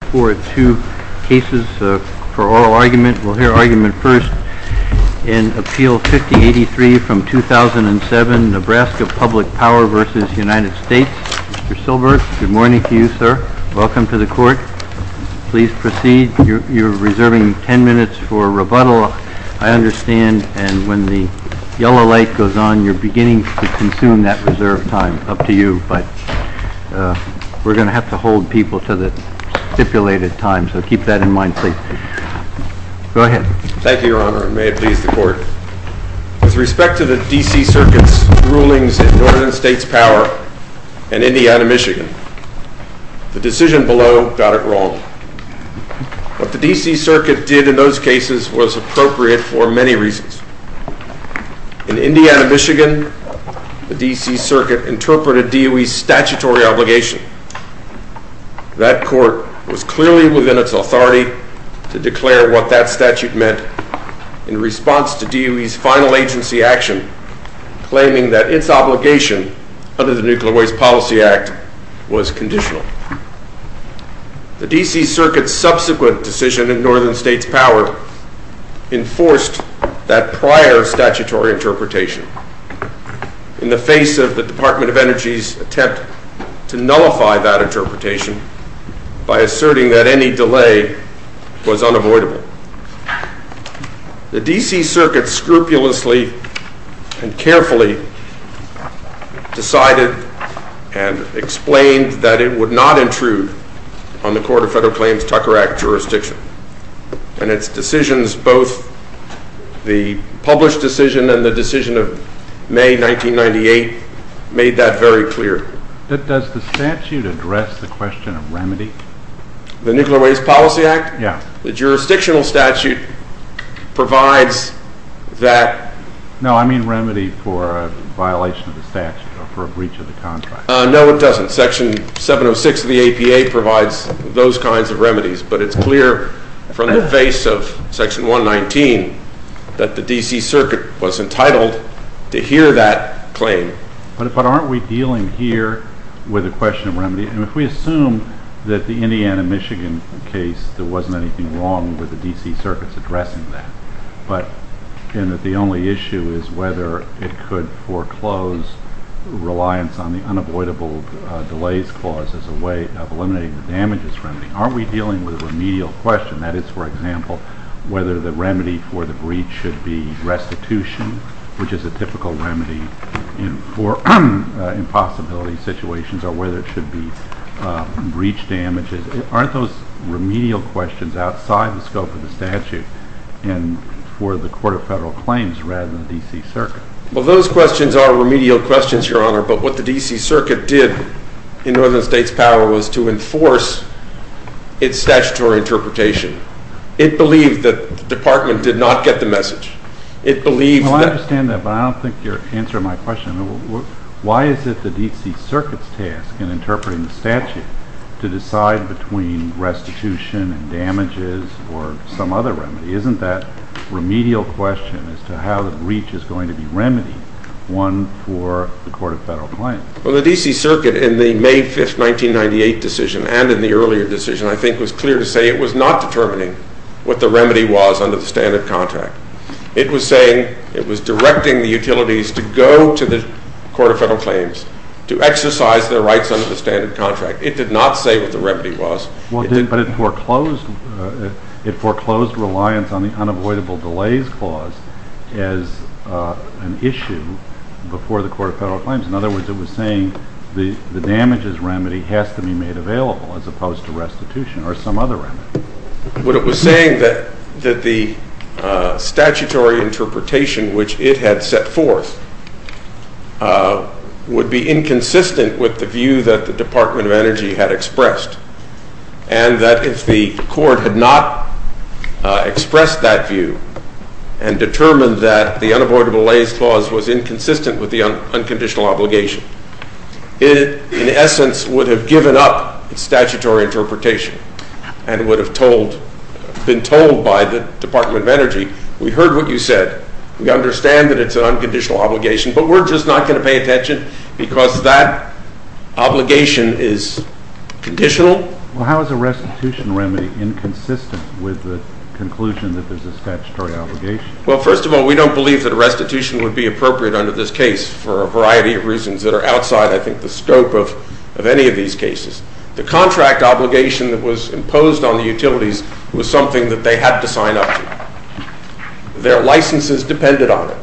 Mr. Silbert, good morning to you, sir. Welcome to the Court. Please proceed. You're reserving 10 minutes for rebuttal, I understand, and when the yellow light goes on, you're beginning to consume that reserved time. It's up to you, but we're going to have to hold people to the stipulated time, so keep that in mind, please. Go ahead. Thank you, Your Honor, and may it please the Court. With respect to the D.C. Circuit's rulings in Northern States Power and Indiana, Michigan, the decision below got it wrong. What the D.C. Circuit did in those cases was appropriate for many reasons. In Indiana, Michigan, the D.C. Circuit interpreted DOE's statutory obligation. That Court was clearly within its authority to declare what that statute meant in response to DOE's final agency action, claiming that its obligation under the Nuclear Waste Policy Act was conditional. The D.C. Circuit's subsequent decision in Northern States Power enforced that prior statutory interpretation in the face of the Department of Energy's attempt to nullify that interpretation by asserting that any delay was unavoidable. The D.C. Circuit scrupulously and carefully decided and explained that it would not intrude on the Court of Federal Claims Tucker Act jurisdiction, and its decisions, both the published decision and the decision of May 1998, made that very clear. Does the statute address the question of remedy? The Nuclear Waste Policy Act? Yes. The jurisdictional statute provides that? No, I mean remedy for a violation of the statute or for a breach of the contract. No, it doesn't. Section 706 of the APA provides those kinds of remedies, but it's clear from the face of Section 119 that the D.C. Circuit was entitled to hear that claim. But aren't we dealing here with a question of remedy? And if we assume that the Indiana, Michigan case, there wasn't anything wrong with the D.C. Circuit's addressing that, but and that the only issue is whether it could foreclose reliance on the unavoidable delays clause as a way of eliminating the damages from it, aren't we dealing with a remedial question? That is, for example, whether the remedy for the breach should be restitution, which is a typical remedy for impossibility situations, or whether it should be breach damages? Aren't those remedial questions outside the scope of the statute and for the Board of Federal Claims rather than the D.C. Circuit? Well, those questions are remedial questions, Your Honor, but what the D.C. Circuit did in Northern states' power was to enforce its statutory interpretation. It believed that the Department did not get the message. It believed that Well, I understand that, but I don't think you're answering my question. Why is it the D.C. Circuit's task in interpreting the statute to decide between restitution and damages or some other remedy? Isn't that remedial question as to how the breach is going to be remedied one for the Court of Federal Claims? Well, the D.C. Circuit in the May 5, 1998 decision and in the earlier decision, I think, was clear to say it was not determining what the remedy was under the standard contract. It was saying it was directing the utilities to go to the Court of Federal Claims to exercise their rights under the standard contract. It did not say what the remedy was. Well, but it foreclosed reliance on the unavoidable delays clause as an issue before the Court of Federal Claims. In other words, it was saying the damages remedy has to be made available as opposed to restitution or some other remedy. But it was saying that the statutory interpretation which it had set forth would be inconsistent with the view that the Department of Energy had expressed and that if the Court had not expressed that view and determined that the unavoidable delays clause was inconsistent with the unconditional obligation, it in essence would have given up its statutory interpretation and would have been told by the Department of Energy, we heard what you said, we understand that it's an unconditional obligation, but we're just not going to pay attention because that obligation is conditional. Well, how is a restitution remedy inconsistent with the conclusion that there's a statutory obligation? Well, first of all, we don't believe that a restitution would be appropriate under this case for a variety of reasons that are outside, I think, the scope of any of these cases. The contract obligation that was imposed on the utilities was something that they had to sign up to. Their licenses depended on it.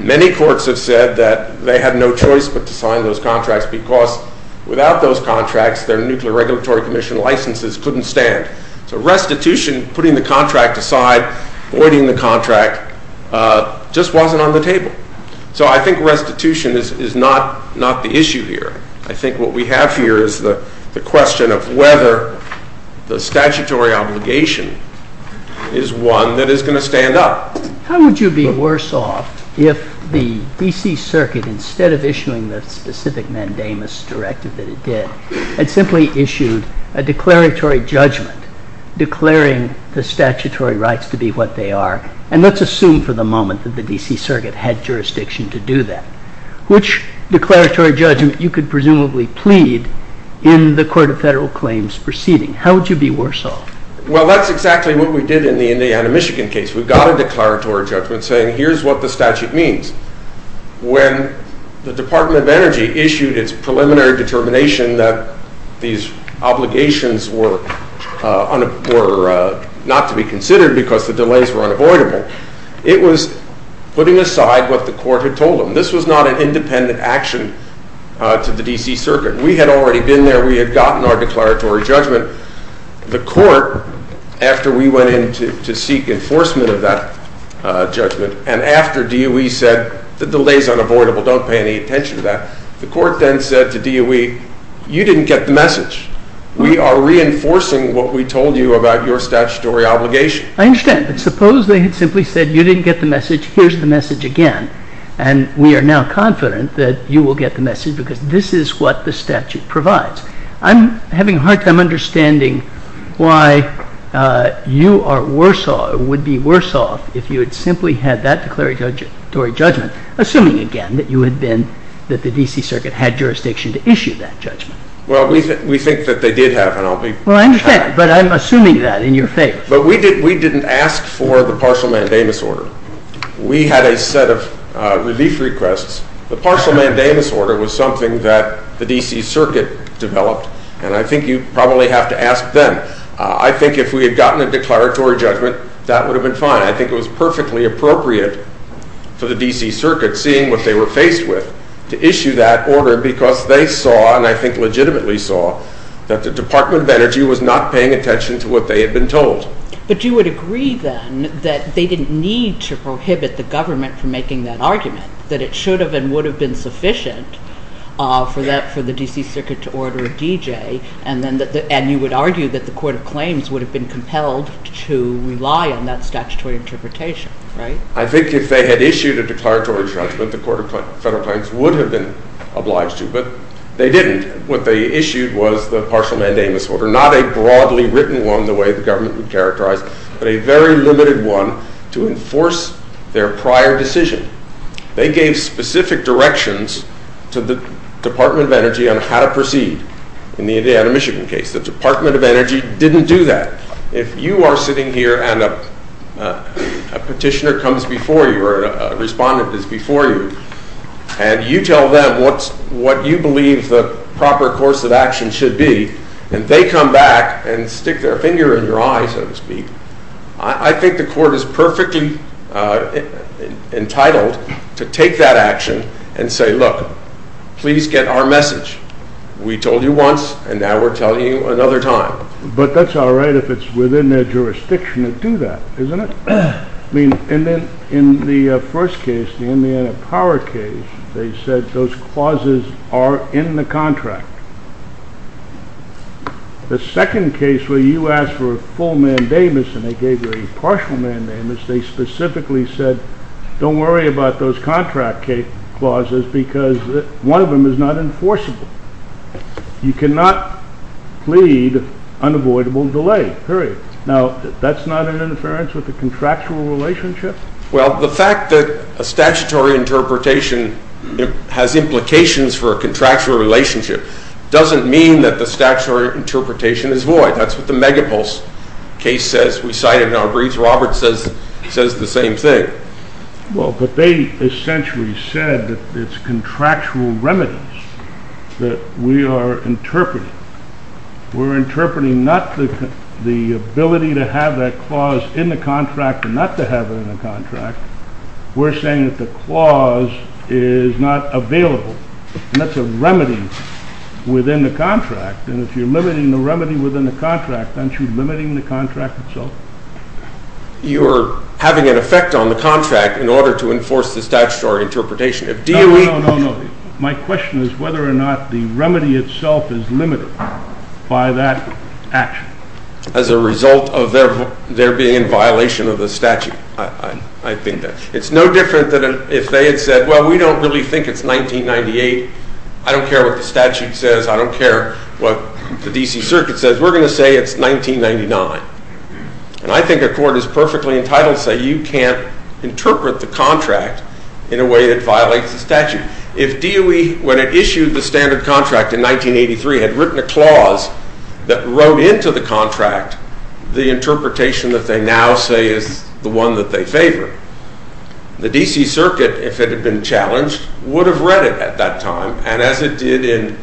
Many courts have said that they had no choice but to sign those contracts because without those contracts, their Nuclear Regulatory Commission licenses couldn't stand. So restitution, putting the contract aside, avoiding the contract, just wasn't on the table. So I think restitution is not the issue here. I think what we have here is the question of whether the statutory obligation is one that is going to stand up. How would you be worse off if the D.C. Circuit, instead of issuing the specific mandamus directive that it did, had simply issued a declaratory judgment declaring the statutory rights to be what they are? And let's assume for the moment that the D.C. Circuit had jurisdiction to do that. Which declaratory judgment you could presumably plead in the Court of Federal Claims proceeding? How would you be worse off? Well, that's exactly what we did in the Indiana, Michigan case. We got a declaratory judgment saying here's what the statute means. When the Department of Energy issued its preliminary determination that these obligations were not to be considered because the delays were unavoidable, it was putting aside what the Court had told them. This was not an independent action to the D.C. Circuit. We had already been there. We had gotten our declaratory judgment. The Court, after we went in to seek enforcement of that judgment, and after DOE said the delays are unavoidable, don't pay any attention to that, the Court then said to DOE, you didn't get the message. We are reinforcing what we told you about your statutory obligation. I understand. But suppose they had simply said you didn't get the message, here's the message again, and we are now confident that you will get the message because this is what the statute provides. I'm having a hard time understanding why you are worse off, would be worse off, if you had simply had that declaratory judgment, assuming again that you had been, that the D.C. Circuit had jurisdiction to issue that judgment. Well, we think that they did have, and I'll be... Well, I understand, but I'm assuming that in your favor. But we didn't ask for the partial mandamus order. We had a set of relief requests. The D.C. Circuit developed, and I think you probably have to ask them. I think if we had gotten a declaratory judgment, that would have been fine. I think it was perfectly appropriate for the D.C. Circuit, seeing what they were faced with, to issue that order because they saw, and I think legitimately saw, that the Department of Energy was not paying attention to what they had been told. But you would agree then that they didn't need to prohibit the government from making that argument, that it should have and would have been sufficient for the D.C. Circuit to order a D.J., and you would argue that the Court of Claims would have been compelled to rely on that statutory interpretation, right? I think if they had issued a declaratory judgment, the Court of Federal Claims would have been obliged to, but they didn't. What they issued was the partial mandamus order, not a broadly written one, the way the government would characterize, but a very limited one to enforce their prior decision. They gave specific directions to the Department of Energy on how to proceed in the Indiana-Michigan case. The Department of Energy didn't do that. If you are sitting here and a petitioner comes before you, or a respondent is before you, and you tell them what you believe the proper course of action should be, and they come back and stick their finger in your eye, so to speak, I think the Court is perfectly entitled to take that action and say, look, please get our message. We told you once, and now we're telling you another time. But that's all right if it's within their jurisdiction to do that, isn't it? And then in the first case, the Indiana Power case, they said those clauses are in the contract. The second case where you asked for a full mandamus and they gave you a partial mandamus, they specifically said, don't worry about those contract clauses because one of them is not enforceable. You cannot plead unavoidable delay, period. Now, that's not an interference with the contractual relationship? Well, the fact that a statutory interpretation has implications for a contractual relationship doesn't mean that the statutory interpretation is void. That's what the Megapulse case says. We cite it in our briefs. Robert says the same thing. Well, but they essentially said that it's contractual remedies that we are interpreting. We're interpreting not the ability to have that clause in the contract and not to have it in the contract. We're saying that the clause is not available, and that's a remedy within the contract. And if you're limiting the remedy within the contract, aren't you limiting the contract itself? You're having an effect on the contract in order to enforce the statutory interpretation. No, no, no, no. My question is whether or not the remedy itself is limited by that action. As a result of there being a violation of the statute, I think that. It's no different than if they had said, well, we don't really think it's 1998. I don't care what the statute says. I don't care what the D.C. Circuit says. We're going to say it's 1999. And I think a court is perfectly entitled to say you can't interpret the contract in a way that violates the statute. If DOE, when it issued the standard contract in 1983, had written a clause that wrote into the contract the interpretation that they now say is the one that they favor, the D.C. Circuit, if it had been challenged, would have read it at that time. And as it did in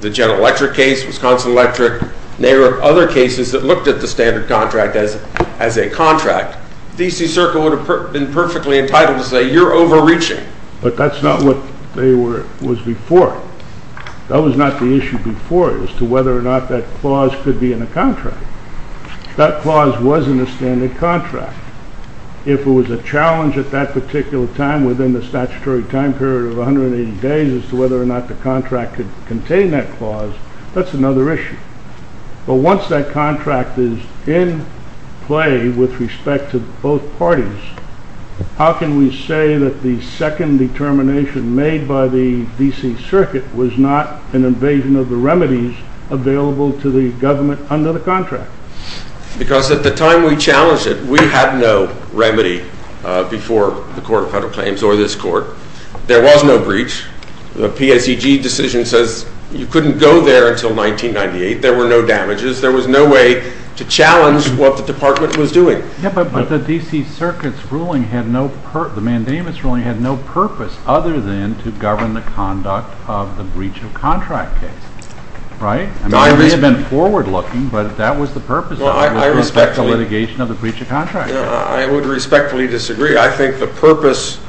the General Electric case, Wisconsin Electric, and there were other cases that looked at the standard contract as a contract, the D.C. Circuit would have been perfectly entitled to say you're overreaching. But that's not what they were, was before. That was not the issue before as to whether or not that clause could be in a contract. That clause was in the standard contract. If it was a challenge at that particular time within the statutory time period of 180 days as to whether or not the contract could contain that clause, that's another issue. But once that contract is in play with respect to both parties, how can we say that the second determination made by the D.C. Circuit was not an invasion of the remedies available to the government under the contract? Because at the time we challenged it, we had no remedy before the Court of Federal Claims or this Court. There was no breach. The PSEG decision says you couldn't go there until 1998. There were no damages. There was no way to challenge what the Department was doing. But the D.C. Circuit's ruling had no purpose, the mandamus ruling had no purpose other than to govern the conduct of the breach of contract case, right? I mean, we had been forward-looking, but that was the purpose of the litigation of the breach of contract case. I would respectfully disagree. I think the purpose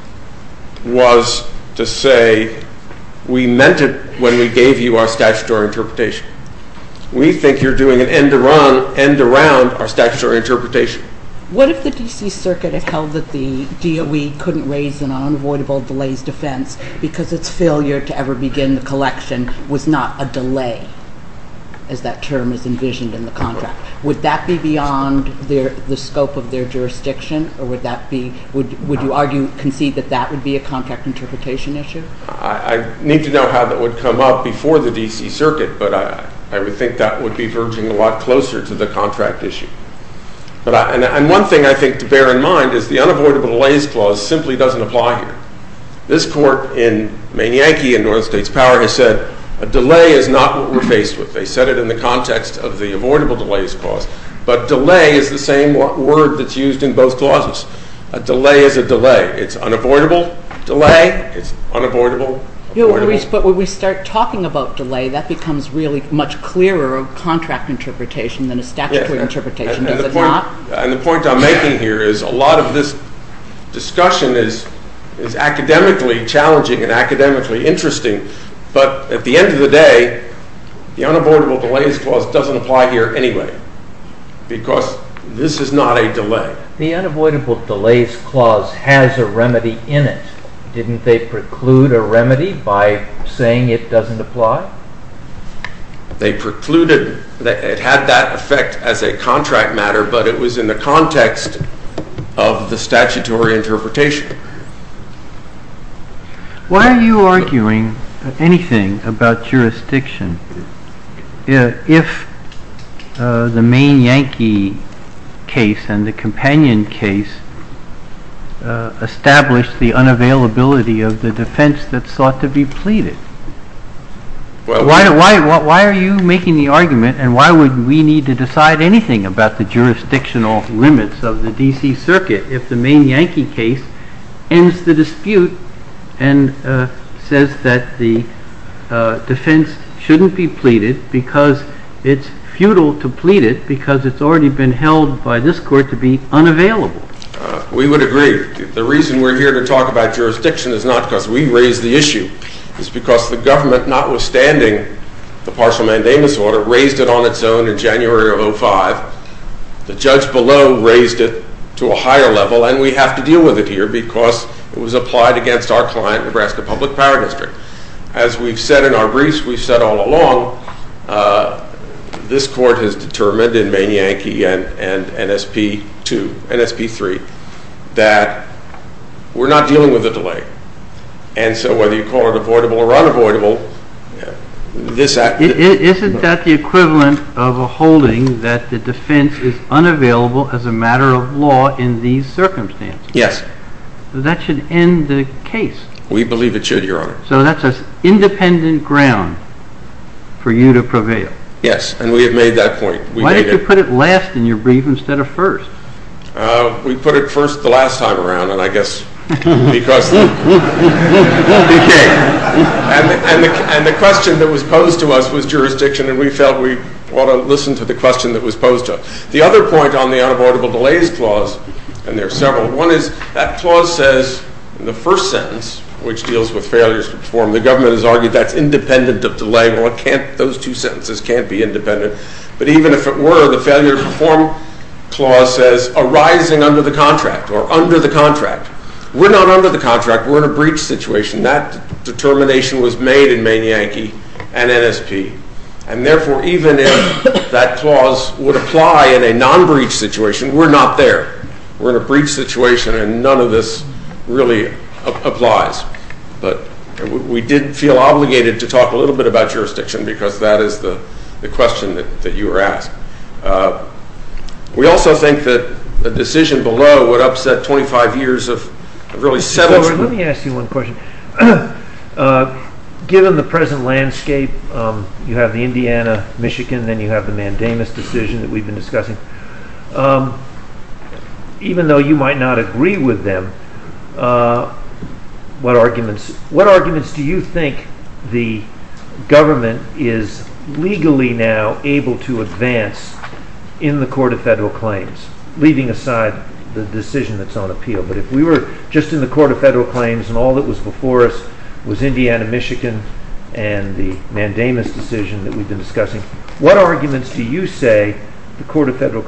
was to say we meant it when we gave you our statutory interpretation. We think you're doing an end-around our statutory interpretation. What if the D.C. Circuit had held that the DOE couldn't raise an unavoidable delays defense because its failure to ever begin the collection was not a delay, as that term is envisioned in the contract? Would that be beyond the scope of their jurisdiction, or would you argue, concede that that would be a contract interpretation issue? I need to know how that would come up before the D.C. Circuit, but I would think that would be verging a lot closer to the contract issue. And one thing I think to bear in mind is the unavoidable delays clause simply doesn't apply here. This Court in Manianke in North States Power has said a delay is not what we're faced with. They said it in the context of the avoidable delays clause, but delay is the same word that's used in both clauses. A delay is a delay. It's unavoidable delay, it's unavoidable avoidable. But when we start talking about delay, that becomes really much clearer a contract interpretation than a statutory interpretation, does it not? And the point I'm making here is a lot of this discussion is academically challenging and academically interesting, but at the end of the day, the unavoidable delays clause doesn't apply here anyway, because this is not a delay. The unavoidable delays clause has a remedy in it. Didn't they preclude a remedy by saying it doesn't apply? They precluded, it had that effect as a contract matter, but it was in the context of the statutory interpretation. Why are you arguing anything about jurisdiction if the Manianke case and the Companion case establish the unavailability of the defense that sought to be pleaded? Why are you making the argument and why would we need to decide anything about the jurisdictional limits of the D.C. Circuit if the Manianke case ends the dispute and says that the defense shouldn't be pleaded because it's futile to plead it because it's already been held by this court to be unavailable? We would agree. The reason we're here to talk about jurisdiction is not because we raised the issue. It's because the government, notwithstanding the partial mandamus order, raised it on its own in January of 2005. The judge below raised it to a higher level and we have to deal with it here because it was applied against our client, Nebraska Public Power District. As we've said in our briefs, we've said all along, this court has determined in Manianke and N.S.P. 2, N.S.P. 3, that we're not dealing with a delay. And so whether you call it avoidable or unavoidable, this act… Isn't that the equivalent of a holding that the defense is unavailable as a matter of law in these circumstances? Yes. That should end the case. We believe it should, Your Honor. So that's an independent ground for you to prevail. Yes, and we have made that point. Why did you put it last in your brief instead of first? We put it first the last time around, and I guess because the question that was posed to us was jurisdiction, and we felt we ought to listen to the question that was posed to us. The other point on the unavoidable delays clause, and there are several, one is that clause says in the first sentence, which deals with failures to perform, the government has argued that's independent of delay, well it can't, those two sentences can't be independent. But even if it were, the failure to perform clause says arising under the contract or under the contract. We're not under the contract, we're in a breach situation. That determination was made in Mann Yankee and NSP. And therefore, even if that clause would apply in a non-breach situation, we're not there. We're in a breach situation and none of this really applies. But we did feel obligated to talk a little bit about jurisdiction because that is the question that you were asked. We also think that a decision below would upset 25 years of really severance. Let me ask you one question. Given the present landscape, you have the Indiana, Michigan, then you have the Mandamus decision that we've been discussing. Even though you might not agree with them, what arguments do you think the government is legally now able to advance in the Court of Federal Claims, leaving aside the decision that's on appeal? But if we were just in the Court of Federal Claims and all that was before us was Indiana, Michigan and the Mandamus decision that we've been discussing, what arguments do you say the Court of Federal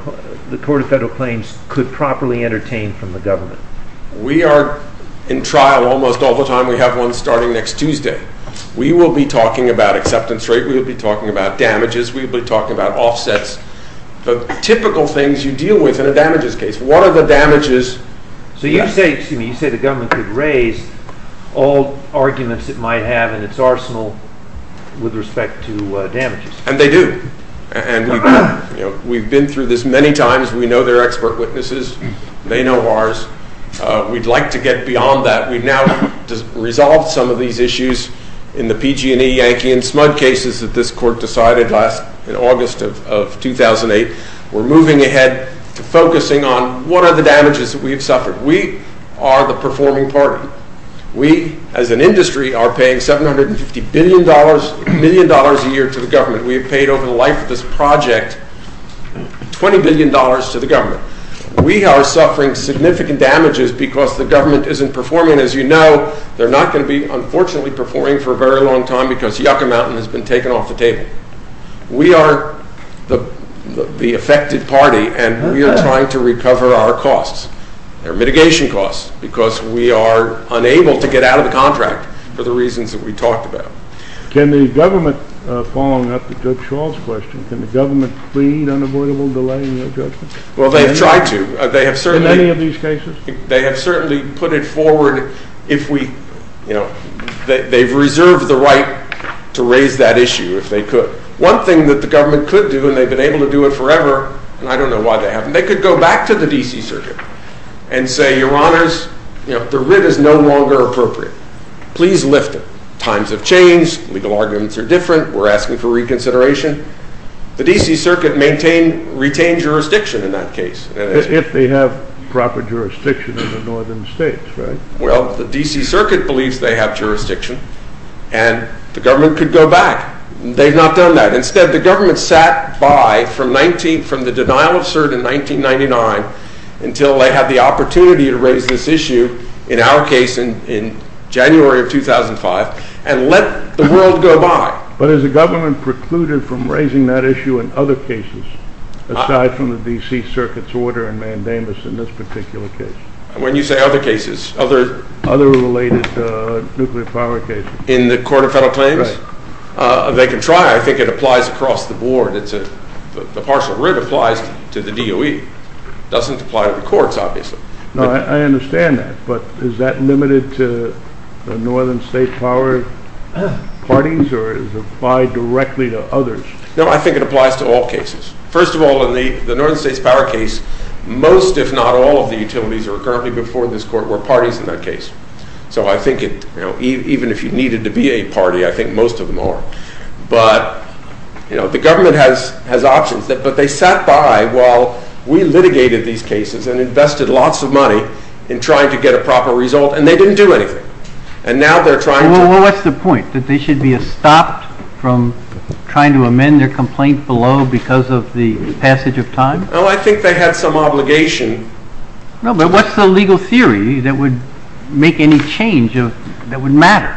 Claims could properly entertain from the government? We are in trial almost all the time. We have one starting next Tuesday. We will be talking about acceptance rate. We will be talking about damages. We will be talking about offsets. The typical things you deal with in a damages case, what are the damages? So you say, excuse me, you say the government could raise all arguments it might have in its arsenal with respect to damages. And they do. And we've been through this many times. We know they're expert witnesses. They know ours. We'd like to get beyond that. We've now resolved some of these issues in the PG&E Yankee and SMUD cases that this court decided last, in August of 2008. We're moving ahead to focusing on what are the damages that we have suffered? We are the performing party. We as an industry are paying $750 billion, a million dollars a year to the government. We have paid over the life of this project $20 billion to the government. We are suffering significant damages because the government isn't performing. As you know, they're not going to be, unfortunately, performing for a very long time because Yucca Mountain has been taken off the table. We are the affected party, and we are trying to recover our costs, our mitigation costs, because we are unable to get out of the contract for the reasons that we talked about. Can the government, following up to Judge Schall's question, can the government plead unavoidable delay in their judgment? Well, they've tried to. In any of these cases? They have certainly put it forward if we, you know, they've reserved the right to raise that issue if they could. One thing that the government could do, and they've been able to do it forever, and I don't know why they haven't, they could go back to the D.C. Circuit and say, Your Honors, the writ is no longer appropriate. Please lift it. Times have changed. Legal arguments are different. We're asking for reconsideration. The D.C. Circuit retained jurisdiction in that case. If they have proper jurisdiction in the northern states, right? Well, the D.C. Circuit believes they have jurisdiction, and the government could go back. They've not done that. Instead, the government sat by from the denial of cert in 1999 until they had the opportunity to raise this issue, in our case in January of 2005, and let the world go by. But has the government precluded from raising that issue in other cases, aside from the D.C. Circuit's order and mandamus in this particular case? When you say other cases, other... Other related nuclear power cases. In the Court of Federal Claims? Right. They can try. I think it applies across the board. The partial writ applies to the DOE. Doesn't apply to the courts, obviously. No, I understand that, but is that limited to the northern state power parties, or is it applied directly to others? No, I think it applies to all cases. First of all, in the northern states power case, most, if not all, of the utilities that are currently before this court were parties in that case. So I think it, even if you needed to be a party, I think most of them are. But the government has options, but they sat by while we litigated these cases and invested lots of money in trying to get a proper result, and they didn't do anything. And now they're trying to... Well, what's the point? That they should be stopped from trying to amend their complaint below because of the passage of time? Well, I think they had some obligation... No, but what's the legal theory that would make any change that would matter?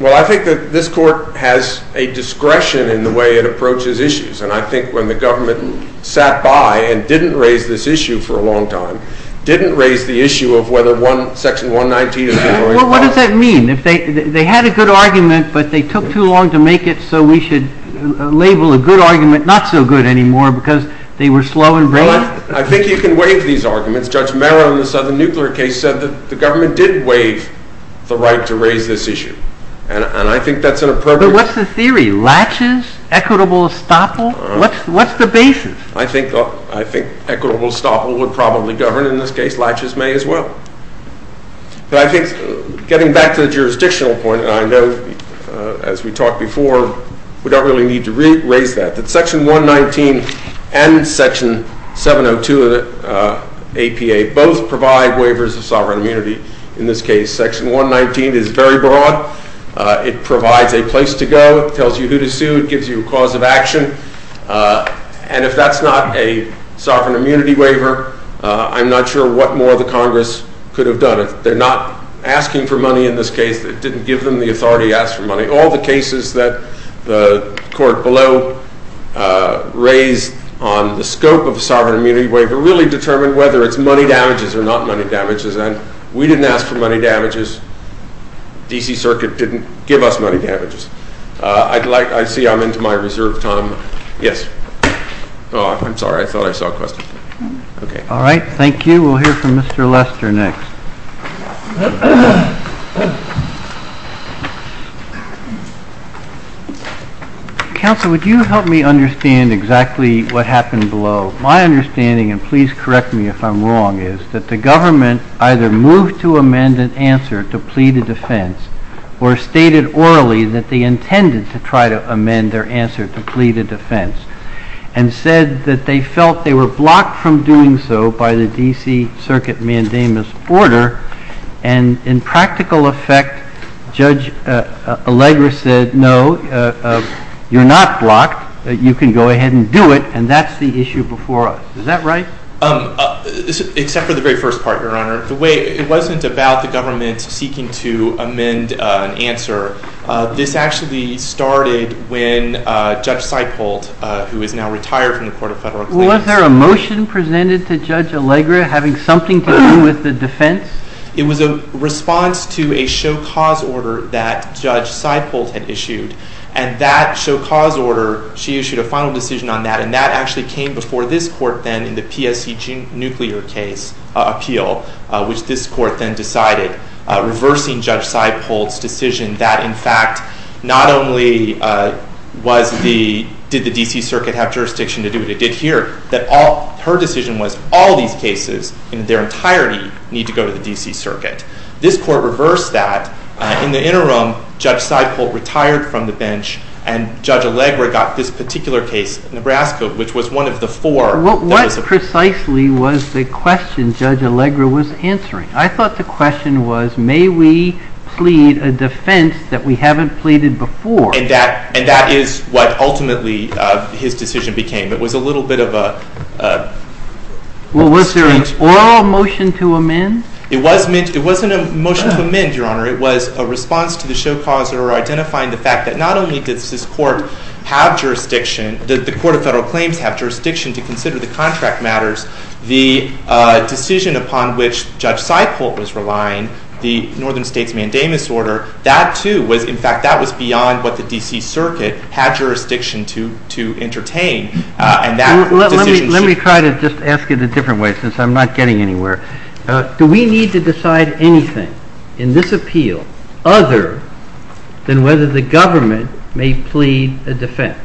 Well, I think that this court has a discretion in the way it approaches issues, and I think when the government sat by and didn't raise this issue for a long time, didn't raise the issue of whether Section 119 is being very important. Well, what does that mean? They had a good argument, but they took too long to make it so we should label a good argument not so good anymore because they were slow in bringing it? I think you can waive these arguments. Judge Mera, in the southern nuclear case, said that the government did waive the right to raise this issue, and I think that's an appropriate... But what's the theory? Latches, equitable estoppel? What's the basis? I think equitable estoppel would probably govern, in this case, latches may as well. But I think, getting back to the jurisdictional point, and I know as we talked before, we don't really need to raise that, that Section 119 and Section 702 of the APA both provide waivers of sovereign immunity. In this case, Section 119 is very broad. It tells you who to sue. It gives you a cause of action, and if that's not a sovereign immunity waiver, I'm not sure what more the Congress could have done. They're not asking for money in this case. It didn't give them the authority to ask for money. All the cases that the court below raised on the scope of a sovereign immunity waiver really determined whether it's money damages or not money damages, and we didn't ask for money damages. The D.C. Circuit didn't give us money damages. I'd like, I see I'm into my reserve time. Yes. Oh, I'm sorry. I thought I saw a question. Okay. All right. Thank you. We'll hear from Mr. Lester next. Counsel, would you help me understand exactly what happened below? My understanding, and please correct me if I'm wrong, is that the government either moved to amend an answer to plea to defense or stated orally that they intended to try to amend their answer to plea to defense and said that they felt they were blocked from doing so by the D.C. Circuit mandamus order, and in practical effect, Judge Allegra said, no, you're not blocked. You can go ahead and do it, and that's the issue before us. Is that right? Except for the very first part, Your Honor. The way, it wasn't about the government seeking to amend an answer. This actually started when Judge Seipolt, who is now retired from the Court of Federal Complaints. Was there a motion presented to Judge Allegra having something to do with the defense? It was a response to a show cause order that Judge Seipolt had issued, and that show cause order, she issued a final decision on that, and that actually came before this court then in the PSE nuclear case appeal, which this court then decided, reversing Judge Seipolt's decision that, in fact, not only did the D.C. Circuit have jurisdiction to do what it did here, that her decision was all these cases in their entirety need to go to the D.C. Circuit. This court reversed that. In the interim, Judge Seipolt retired from the bench, and Judge Allegra got this particular case, Nebraska, which was one of the four. What precisely was the question Judge Allegra was answering? I thought the question was, may we plead a defense that we haven't pleaded before? And that is what ultimately his decision became. It was a little bit of a strange... Was there an oral motion to amend? It wasn't a motion to amend, Your Honor. It was a response to the show cause order identifying the fact that not only does this the Court of Federal Claims have jurisdiction to consider the contract matters, the decision upon which Judge Seipolt was relying, the Northern States Mandamus order, that too was, in fact, that was beyond what the D.C. Circuit had jurisdiction to entertain, and that decision should... Let me try to just ask it a different way, since I'm not getting anywhere. Do we need to decide anything in this appeal other than whether the government may plead a defense?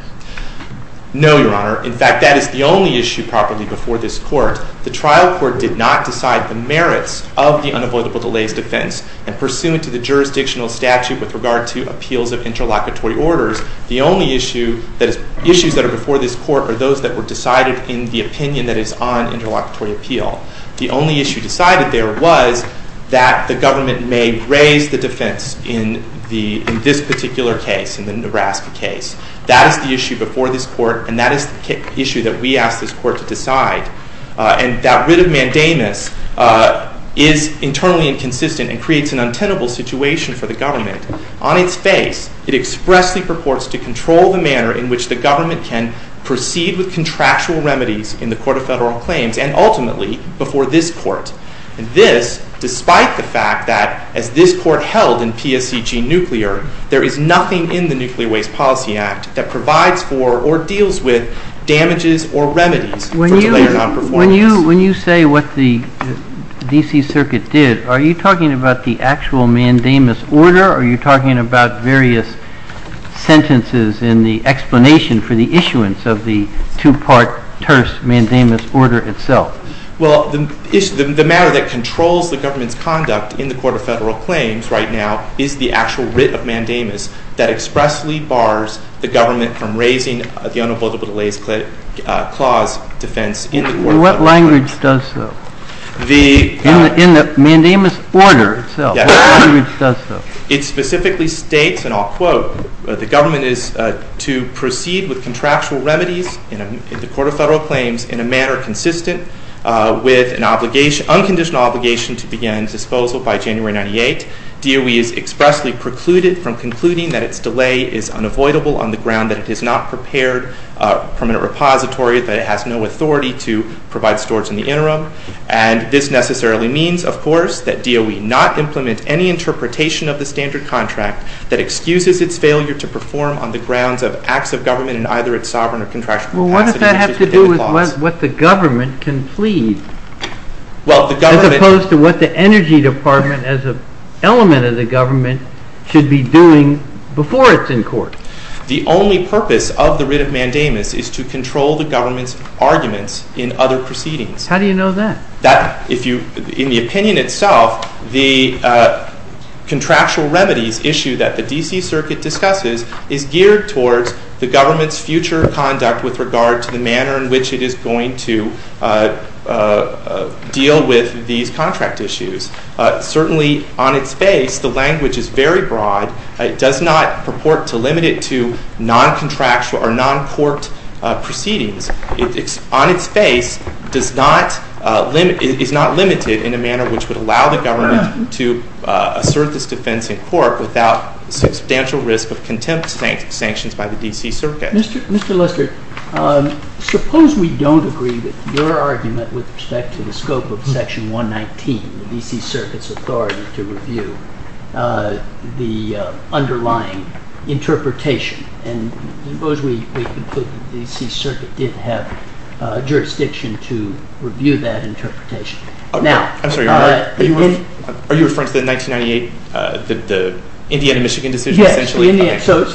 No, Your Honor. In fact, that is the only issue properly before this court. The trial court did not decide the merits of the unavoidable delays defense, and pursuant to the jurisdictional statute with regard to appeals of interlocutory orders, the only issue that is... Issues that are before this court are those that were decided in the opinion that is on interlocutory appeal. The only issue decided there was that the government may raise the defense in this particular case, in the Nebraska case. That is the issue before this court, and that is the issue that we asked this court to decide. And that writ of mandamus is internally inconsistent and creates an untenable situation for the government. On its face, it expressly purports to control the manner in which the government can proceed with contractual remedies in the Court of Federal Claims, and ultimately, before this court. And this, despite the fact that, as this court held in PSCG Nuclear, there is nothing in the Nuclear Waste Policy Act that provides for, or deals with, damages or remedies for delay or non-performance. When you say what the D.C. Circuit did, are you talking about the actual mandamus order, or are you talking about various sentences in the explanation for the issuance of the two-part terse mandamus order itself? Well, the matter that controls the government's conduct in the Court of Federal Claims right now is the actual writ of mandamus that expressly bars the government from raising the unabordable delays clause defense in the Court of Federal Claims. What language does so? In the mandamus order itself, what language does so? It specifically states, and I'll quote, the government is to proceed with contractual remedies in the Court of Federal Claims in a manner consistent with an unconditional obligation to begin disposal by January 98. DOE is expressly precluded from concluding that its delay is unavoidable on the ground that it has not prepared a permanent repository, that it has no authority to provide storage in the interim. And this necessarily means, of course, that DOE not implement any interpretation of the standard contract that excuses its failure to perform on the grounds of acts of government in either its sovereign or contractual capacity. Well, what does that have to do with what the government can plead? As opposed to what the Energy Department, as an element of the government, should be doing before it's in court. The only purpose of the writ of mandamus is to control the government's arguments in other proceedings. How do you know that? In the opinion itself, the contractual remedies issue that the D.C. Circuit discusses is geared towards the government's future conduct with regard to the manner in which it is going to deal with these contract issues. Certainly, on its face, the language is very broad. It does not purport to limit it to non-contractual or non-court proceedings. On its face, it is not limited in a manner which would allow the government to assert its defense in court without the substantial risk of contempt sanctions by the D.C. Circuit. Mr. Lister, suppose we don't agree with your argument with respect to the scope of Section 119, the D.C. Circuit's authority to review the underlying interpretation. And suppose we conclude that the D.C. Circuit did have jurisdiction to review that interpretation. I'm sorry. Are you referring to the 1998, the Indiana-Michigan decision, essentially? Yes. So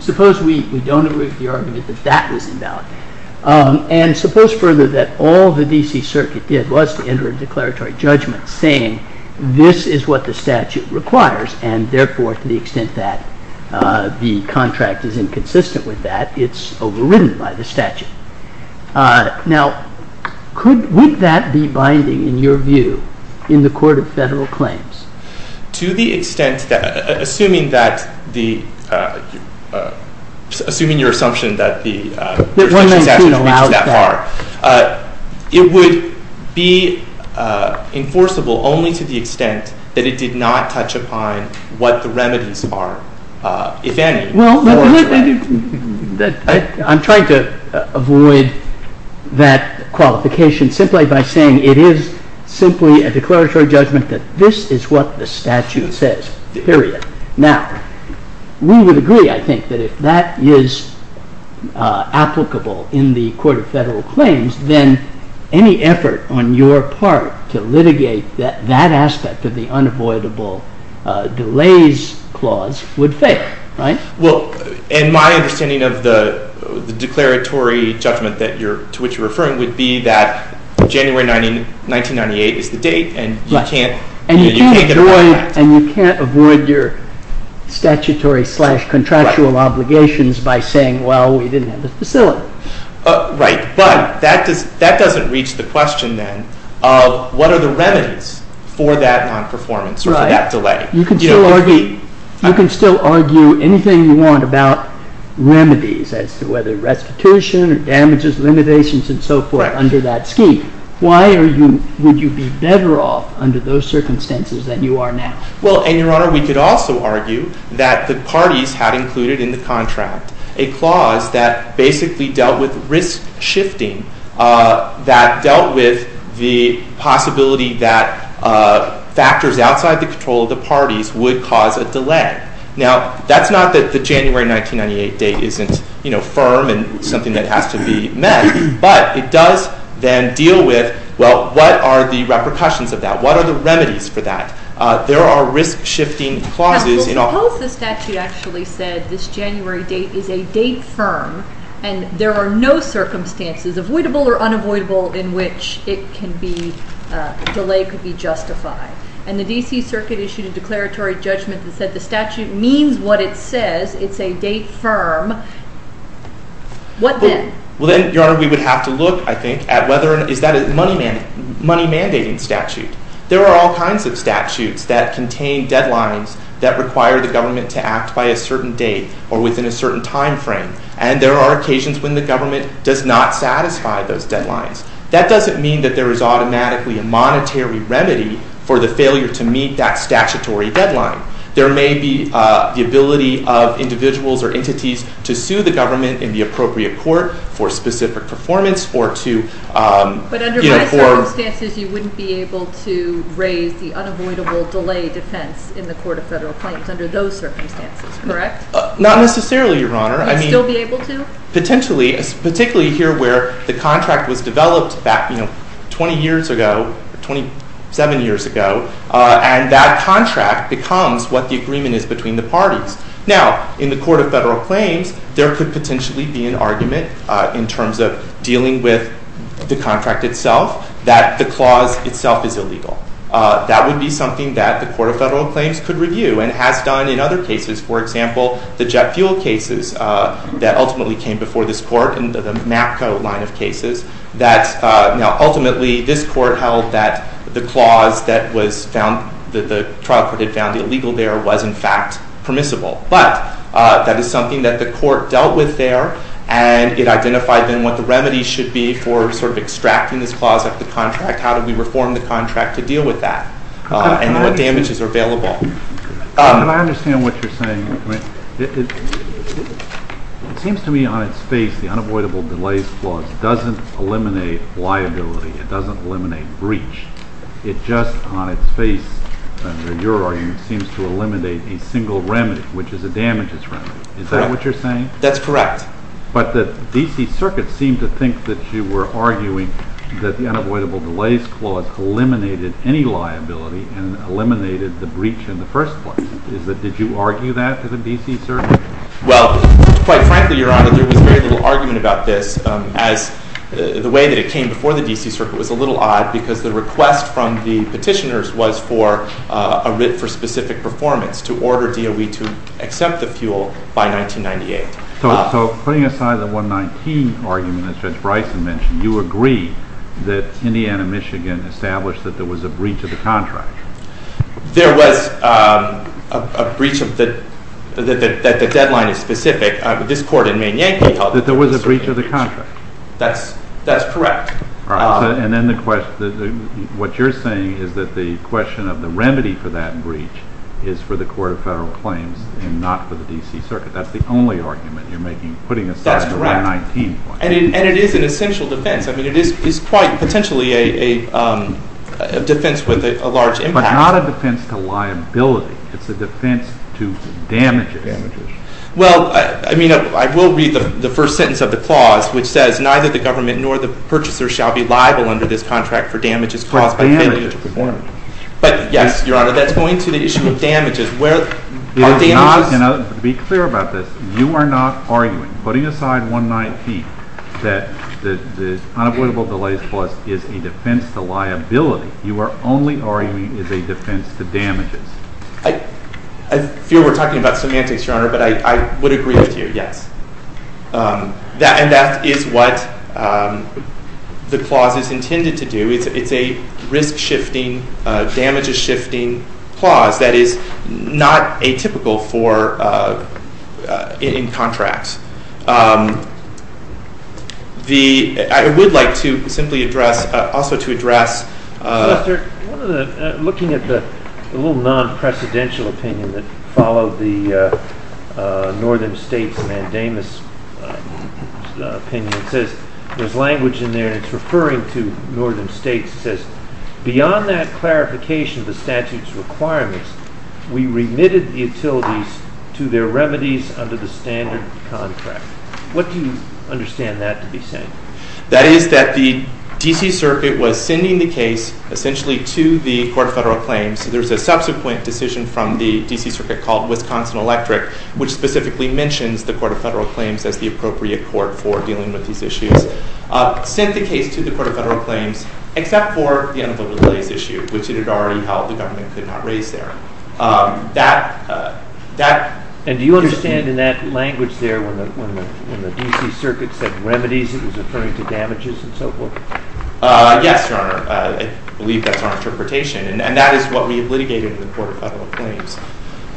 suppose we don't agree with the argument that that was invalid. And suppose, further, that all the D.C. Circuit did was to enter a declaratory judgment saying this is what the statute requires, and therefore, to the extent that the contract is inconsistent with that, it's overridden by the statute. Now, would that be binding, in your view, in the court of federal claims? To the extent that, assuming your assumption that the jurisdiction statute reaches that far, it would be enforceable only to the extent that it did not touch upon what the remedies are, if any. I'm trying to avoid that qualification simply by saying it is simply a declaratory judgment that this is what the statute says, period. Now, we would agree, I think, that if that is applicable in the court of federal claims, then any effort on your part to litigate that aspect of the unavoidable delays clause would fail, right? Well, in my understanding of the declaratory judgment to which you're referring would be that January 1998 is the date, and you can't get away with that. And you can't avoid your statutory-slash-contractual obligations by saying, well, we didn't have the facility. Right, but that doesn't reach the question, then, of what are the remedies for that non-performance, or for that delay. You can still argue anything you want about remedies as to whether restitution or damages, limitations, and so forth under that scheme. Why would you be better off under those circumstances than you are now? Well, and, Your Honor, we could also argue that the parties had included in the contract a clause that basically dealt with risk-shifting, that dealt with the possibility that factors outside the control of the parties would cause a delay. Now, that's not that the January 1998 date isn't, you know, firm and something that has to be met, but it does then deal with, well, what are the repercussions of that? What are the remedies for that? There are risk-shifting clauses. Now, suppose the statute actually said this January date is a date firm, and there are no circumstances, avoidable or unavoidable, in which it can be, delay could be justified. And the D.C. Circuit issued a declaratory judgment that said the statute means what it says. It's a date firm. What then? Well, then, Your Honor, we would have to look, I think, at whether is that a money-mandating statute. There are all kinds of statutes that contain deadlines that require the government to act by a certain date or within a certain time frame. And there are occasions when the government does not satisfy those deadlines. That doesn't mean that there is automatically a monetary remedy for the failure to meet that statutory deadline. There may be the ability of individuals or entities to sue the government in the appropriate court for specific performance or to, you know, for- But under those circumstances, you wouldn't be able to raise the unavoidable delay defense in the Court of Federal Claims under those circumstances, correct? Not necessarily, Your Honor. You'd still be able to? Potentially, particularly here where the contract was developed back, you know, 20 years ago, 27 years ago, and that contract becomes what the agreement is between the parties. Now, in the Court of Federal Claims, there could potentially be an argument in terms of dealing with the contract itself that the clause itself is illegal. That would be something that the Court of Federal Claims could review and has done in other cases, for example, the jet fuel cases that ultimately came before this court and the MAPCO line of cases. Now, ultimately, this court held that the clause that the trial court had found illegal there was, in fact, permissible. But that is something that the court dealt with there, and it identified then what the remedy should be for sort of extracting this clause out of the contract. How do we reform the contract to deal with that? And what damages are available? I understand what you're saying. It seems to me on its face the unavoidable delays clause doesn't eliminate liability. It doesn't eliminate breach. It just, on its face, under your argument, seems to eliminate a single remedy, which is a damages remedy. Is that what you're saying? That's correct. But the D.C. Circuit seemed to think that you were arguing that the unavoidable delays clause eliminated any liability, and eliminated the breach in the first place. Did you argue that to the D.C. Circuit? Well, quite frankly, Your Honor, there was very little argument about this, as the way that it came before the D.C. Circuit was a little odd because the request from the petitioners was for a writ for specific performance to order DOE to accept the fuel by 1998. So putting aside the 119 argument that Judge Bryson mentioned, you agree that Indiana-Michigan established that there was a breach of the contract. There was a breach that the deadline is specific. This Court in Maine-Yankee held that there was a breach of the contract. That's correct. And then what you're saying is that the question of the remedy for that breach is for the Court of Federal Claims and not for the D.C. Circuit. That's the only argument you're making, putting aside the 119 point. And it is an essential defense. I mean, it is quite potentially a defense with a large impact. But not a defense to liability. It's a defense to damages. Well, I mean, I will read the first sentence of the clause, which says, neither the government nor the purchaser shall be liable under this contract for damages caused by failure to perform it. But, yes, Your Honor, that's going to the issue of damages. To be clear about this, you are not arguing, putting aside 119, that the unavoidable delays clause is a defense to liability. You are only arguing it is a defense to damages. I fear we're talking about semantics, Your Honor, but I would agree with you, yes. And that is what the clause is intended to do. It's a risk-shifting, damages-shifting clause. That is not atypical in contracts. I would like to simply address, also to address. Mr. Lester, looking at the little non-precedential opinion that followed the northern states mandamus opinion, it says there's language in there, and it's referring to northern states. It says, beyond that clarification of the statute's requirements, we remitted the utilities to their remedies under the standard contract. What do you understand that to be saying? That is that the D.C. Circuit was sending the case, essentially, to the Court of Federal Claims. There's a subsequent decision from the D.C. Circuit called Wisconsin Electric, which specifically mentions the Court of Federal Claims as the appropriate court for dealing with these issues. It sent the case to the Court of Federal Claims, except for the unavoidable delays issue, which it had already held the government could not raise there. And do you understand in that language there when the D.C. Circuit said remedies, it was referring to damages and so forth? Yes, Your Honor. I believe that's our interpretation. And that is what we have litigated in the Court of Federal Claims.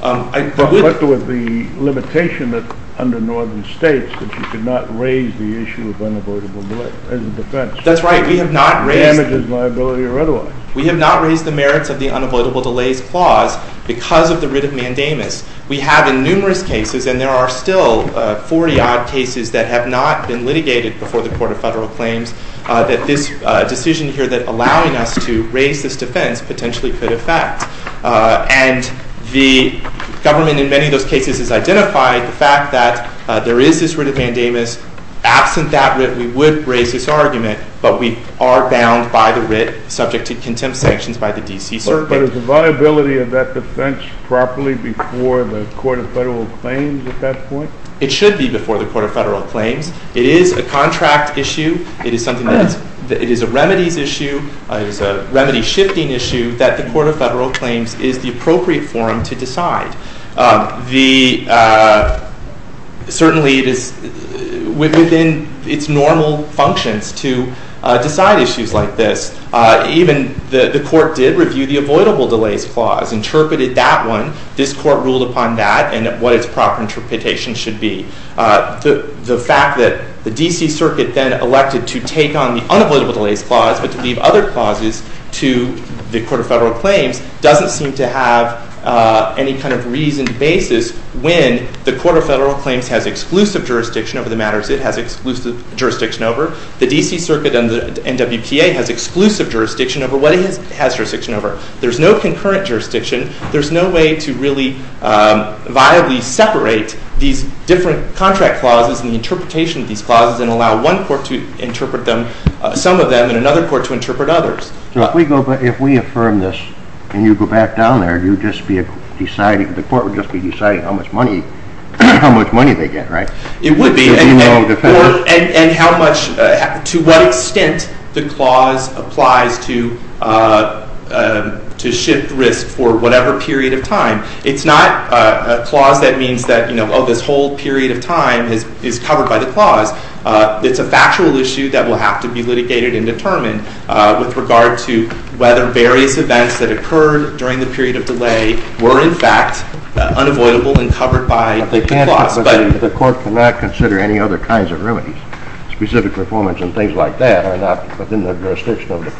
But what about the limitation under northern states that you could not raise the issue of unavoidable delays as a defense? That's right. It damages liability or otherwise. We have not raised the merits of the unavoidable delays clause because of the writ of mandamus. We have in numerous cases, and there are still 40-odd cases that have not been litigated before the Court of Federal Claims, that this decision here that allowing us to raise this defense potentially could affect. And the government in many of those cases has identified the fact that there is this writ of mandamus. Absent that writ, we would raise this argument, but we are bound by the writ subject to contempt sanctions by the D.C. Circuit. But is the viability of that defense properly before the Court of Federal Claims at that point? It should be before the Court of Federal Claims. It is a contract issue. It is a remedies issue. It is a remedy-shifting issue that the Court of Federal Claims is the appropriate forum to decide. Certainly, it is within its normal functions to decide issues like this. Even the Court did review the avoidable delays clause, interpreted that one. This Court ruled upon that and what its proper interpretation should be. The fact that the D.C. Circuit then elected to take on the unavoidable delays clause but to leave other clauses to the Court of Federal Claims doesn't seem to have any kind of reasoned basis when the Court of Federal Claims has exclusive jurisdiction over the matters it has exclusive jurisdiction over. The D.C. Circuit and the NWPA has exclusive jurisdiction over what it has jurisdiction over. There is no concurrent jurisdiction. There is no way to really viably separate these different contract clauses and the interpretation of these clauses and allow one court to interpret some of them and another court to interpret others. If we affirm this and you go back down there, the court would just be deciding how much money they get, right? It would be. To what extent the clause applies to shift risk for whatever period of time. It's not a clause that means that this whole period of time is covered by the clause. It's a factual issue that will have to be litigated and determined with regard to whether various events that occurred during the period of delay were in fact unavoidable and covered by the clause. The Court cannot consider any other kinds of remedies. Specific performance and things like that are not within the jurisdiction of the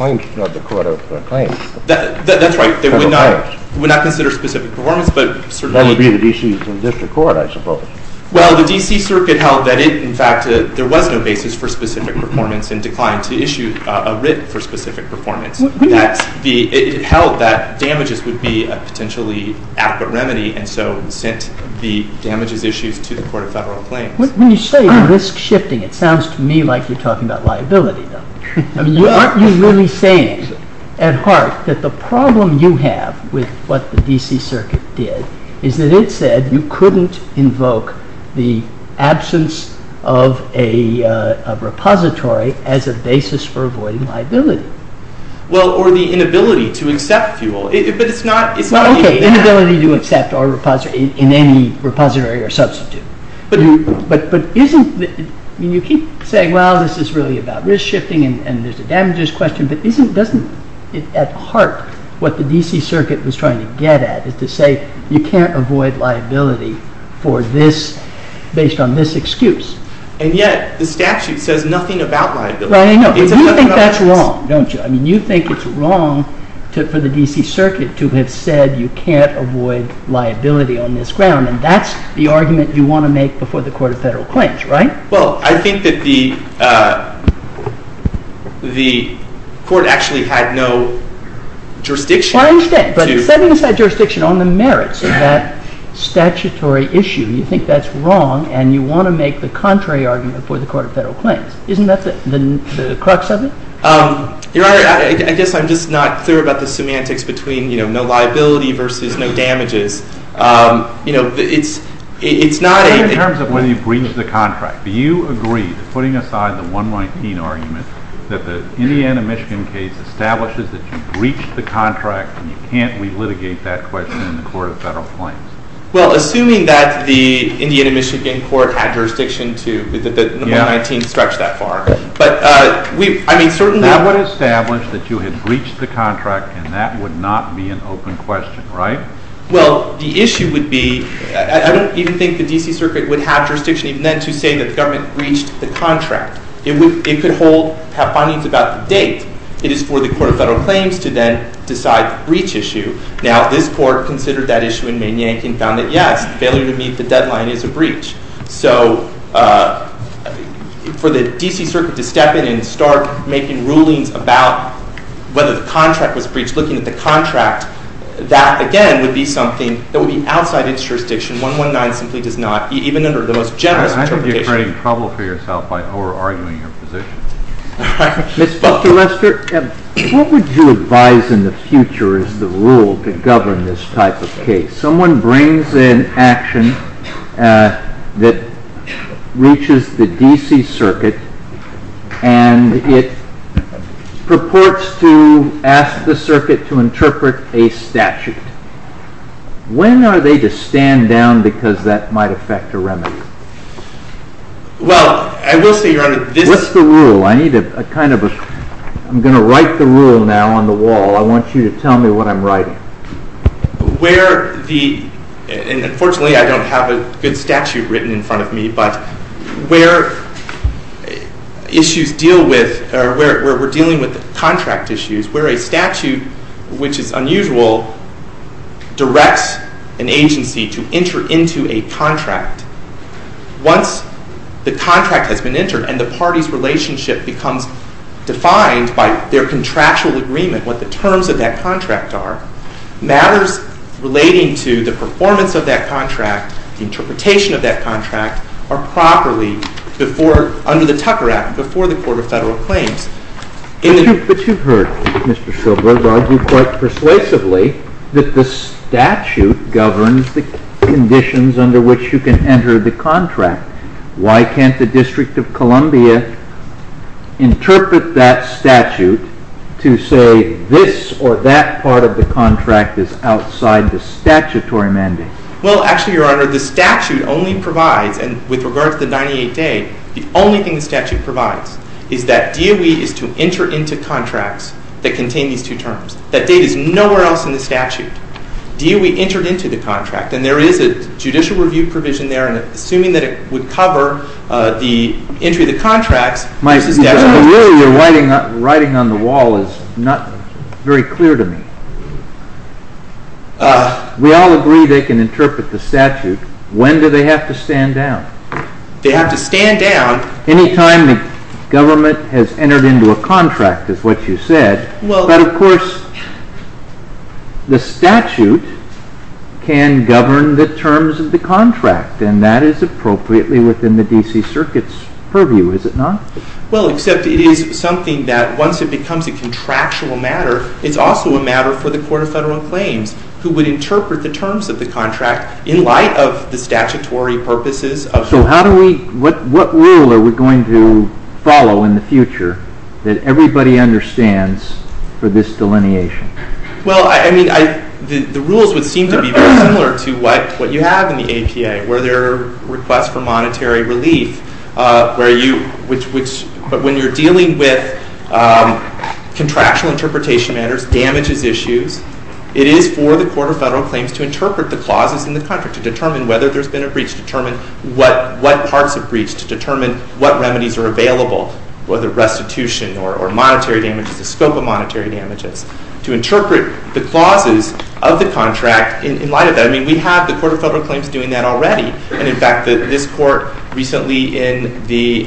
Court of Claims. That's right. It would not consider specific performance. That would be the D.C. District Court, I suppose. Well, the D.C. Circuit held that in fact there was no basis for specific performance and declined to issue a writ for specific performance. It held that damages would be a potentially adequate remedy and so sent the damages issues to the Court of Federal Claims. When you say risk shifting, it sounds to me like you're talking about liability. Aren't you really saying at heart that the problem you have with what the D.C. Circuit did is that it said you couldn't invoke the absence of a repository as a basis for avoiding liability? Well, or the inability to accept fuel. Okay, inability to accept in any repository or substitute. But you keep saying, well, this is really about risk shifting and there's a damages question, but doesn't at heart what the D.C. Circuit was trying to get at is to say you can't avoid liability based on this excuse. And yet the statute says nothing about liability. You think that's wrong, don't you? I mean, you think it's wrong for the D.C. Circuit to have said you can't avoid liability on this ground, and that's the argument you want to make before the Court of Federal Claims, right? Well, I think that the Court actually had no jurisdiction. I understand, but setting aside jurisdiction on the merits of that statutory issue, you think that's wrong and you want to make the contrary argument before the Court of Federal Claims. Isn't that the crux of it? Your Honor, I guess I'm just not clear about the semantics between no liability versus no damages. In terms of whether you breached the contract, do you agree that putting aside the 119 argument that the Indiana-Michigan case establishes that you breached the contract and you can't relitigate that question in the Court of Federal Claims? Well, assuming that the Indiana-Michigan court had jurisdiction to, that the 119 stretched that far. That would establish that you had breached the contract, and that would not be an open question, right? Well, the issue would be, I don't even think the D.C. Circuit would have jurisdiction even then to say that the government breached the contract. It could hold, have findings about the date. It is for the Court of Federal Claims to then decide the breach issue. Now, this court considered that issue in Mann, Yankee and found that, yes, failure to meet the deadline is a breach. So for the D.C. Circuit to step in and start making rulings about whether the contract was breached, looking at the contract, that, again, would be something that would be outside its jurisdiction. 119 simply does not, even under the most generous interpretation. You're creating trouble for yourself by over-arguing your position. Mr. Lester, what would you advise in the future is the rule to govern this type of case? Someone brings an action that reaches the D.C. Circuit, and it purports to ask the circuit to interpret a statute. When are they to stand down because that might affect a remedy? Well, I will say, Your Honor, this... What's the rule? I need a kind of a... I'm going to write the rule now on the wall. I want you to tell me what I'm writing. Where the... And, unfortunately, I don't have a good statute written in front of me, but where issues deal with... or where we're dealing with contract issues, where a statute, which is unusual, directs an agency to enter into a contract, once the contract has been entered and the party's relationship becomes defined by their contractual agreement, what the terms of that contract are, matters relating to the performance of that contract, the interpretation of that contract, are properly, under the Tucker Act, before the Court of Federal Claims. But you've heard Mr. Schilberg argue quite persuasively that the statute governs the conditions under which you can enter the contract. Why can't the District of Columbia interpret that statute to say this or that part of the contract is outside the statutory mandate? Well, actually, Your Honor, the statute only provides, and with regard to the 98-day, the only thing the statute provides is that DOE is to enter into contracts that contain these two terms. That date is nowhere else in the statute. DOE entered into the contract, and there is a judicial review provision there, and assuming that it would cover the entry of the contracts... Really, your writing on the wall is not very clear to me. We all agree they can interpret the statute. When do they have to stand down? They have to stand down... Anytime the government has entered into a contract, is what you said. But, of course, the statute can govern the terms of the contract, and that is appropriately within the D.C. Circuit's purview, is it not? Well, except it is something that, once it becomes a contractual matter, it's also a matter for the Court of Federal Claims, who would interpret the terms of the contract in light of the statutory purposes of the contract. So what rule are we going to follow in the future that everybody understands for this delineation? Well, the rules would seem to be very similar to what you have in the APA, where there are requests for monetary relief. But when you're dealing with contractual interpretation matters, damages issues, it is for the Court of Federal Claims to interpret the clauses in the contract to determine whether there's been a breach, to determine what parts have breached, to determine what remedies are available, whether restitution or monetary damages, the scope of monetary damages, to interpret the clauses of the contract in light of that. I mean, we have the Court of Federal Claims doing that already. And, in fact, this Court recently, in the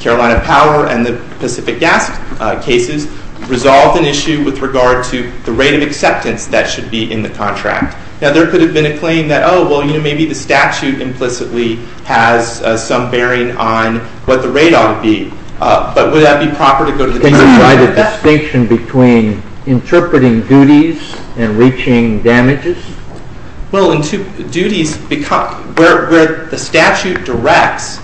Carolina Power and the Pacific Gas cases, resolved an issue with regard to the rate of acceptance that should be in the contract. Now, there could have been a claim that, oh, well, you know, maybe the statute implicitly has some bearing on what the rate ought to be. But would that be proper to go to the Court of Federal Claims? Could you provide a distinction between interpreting duties and reaching damages? Well, duties become, where the statute directs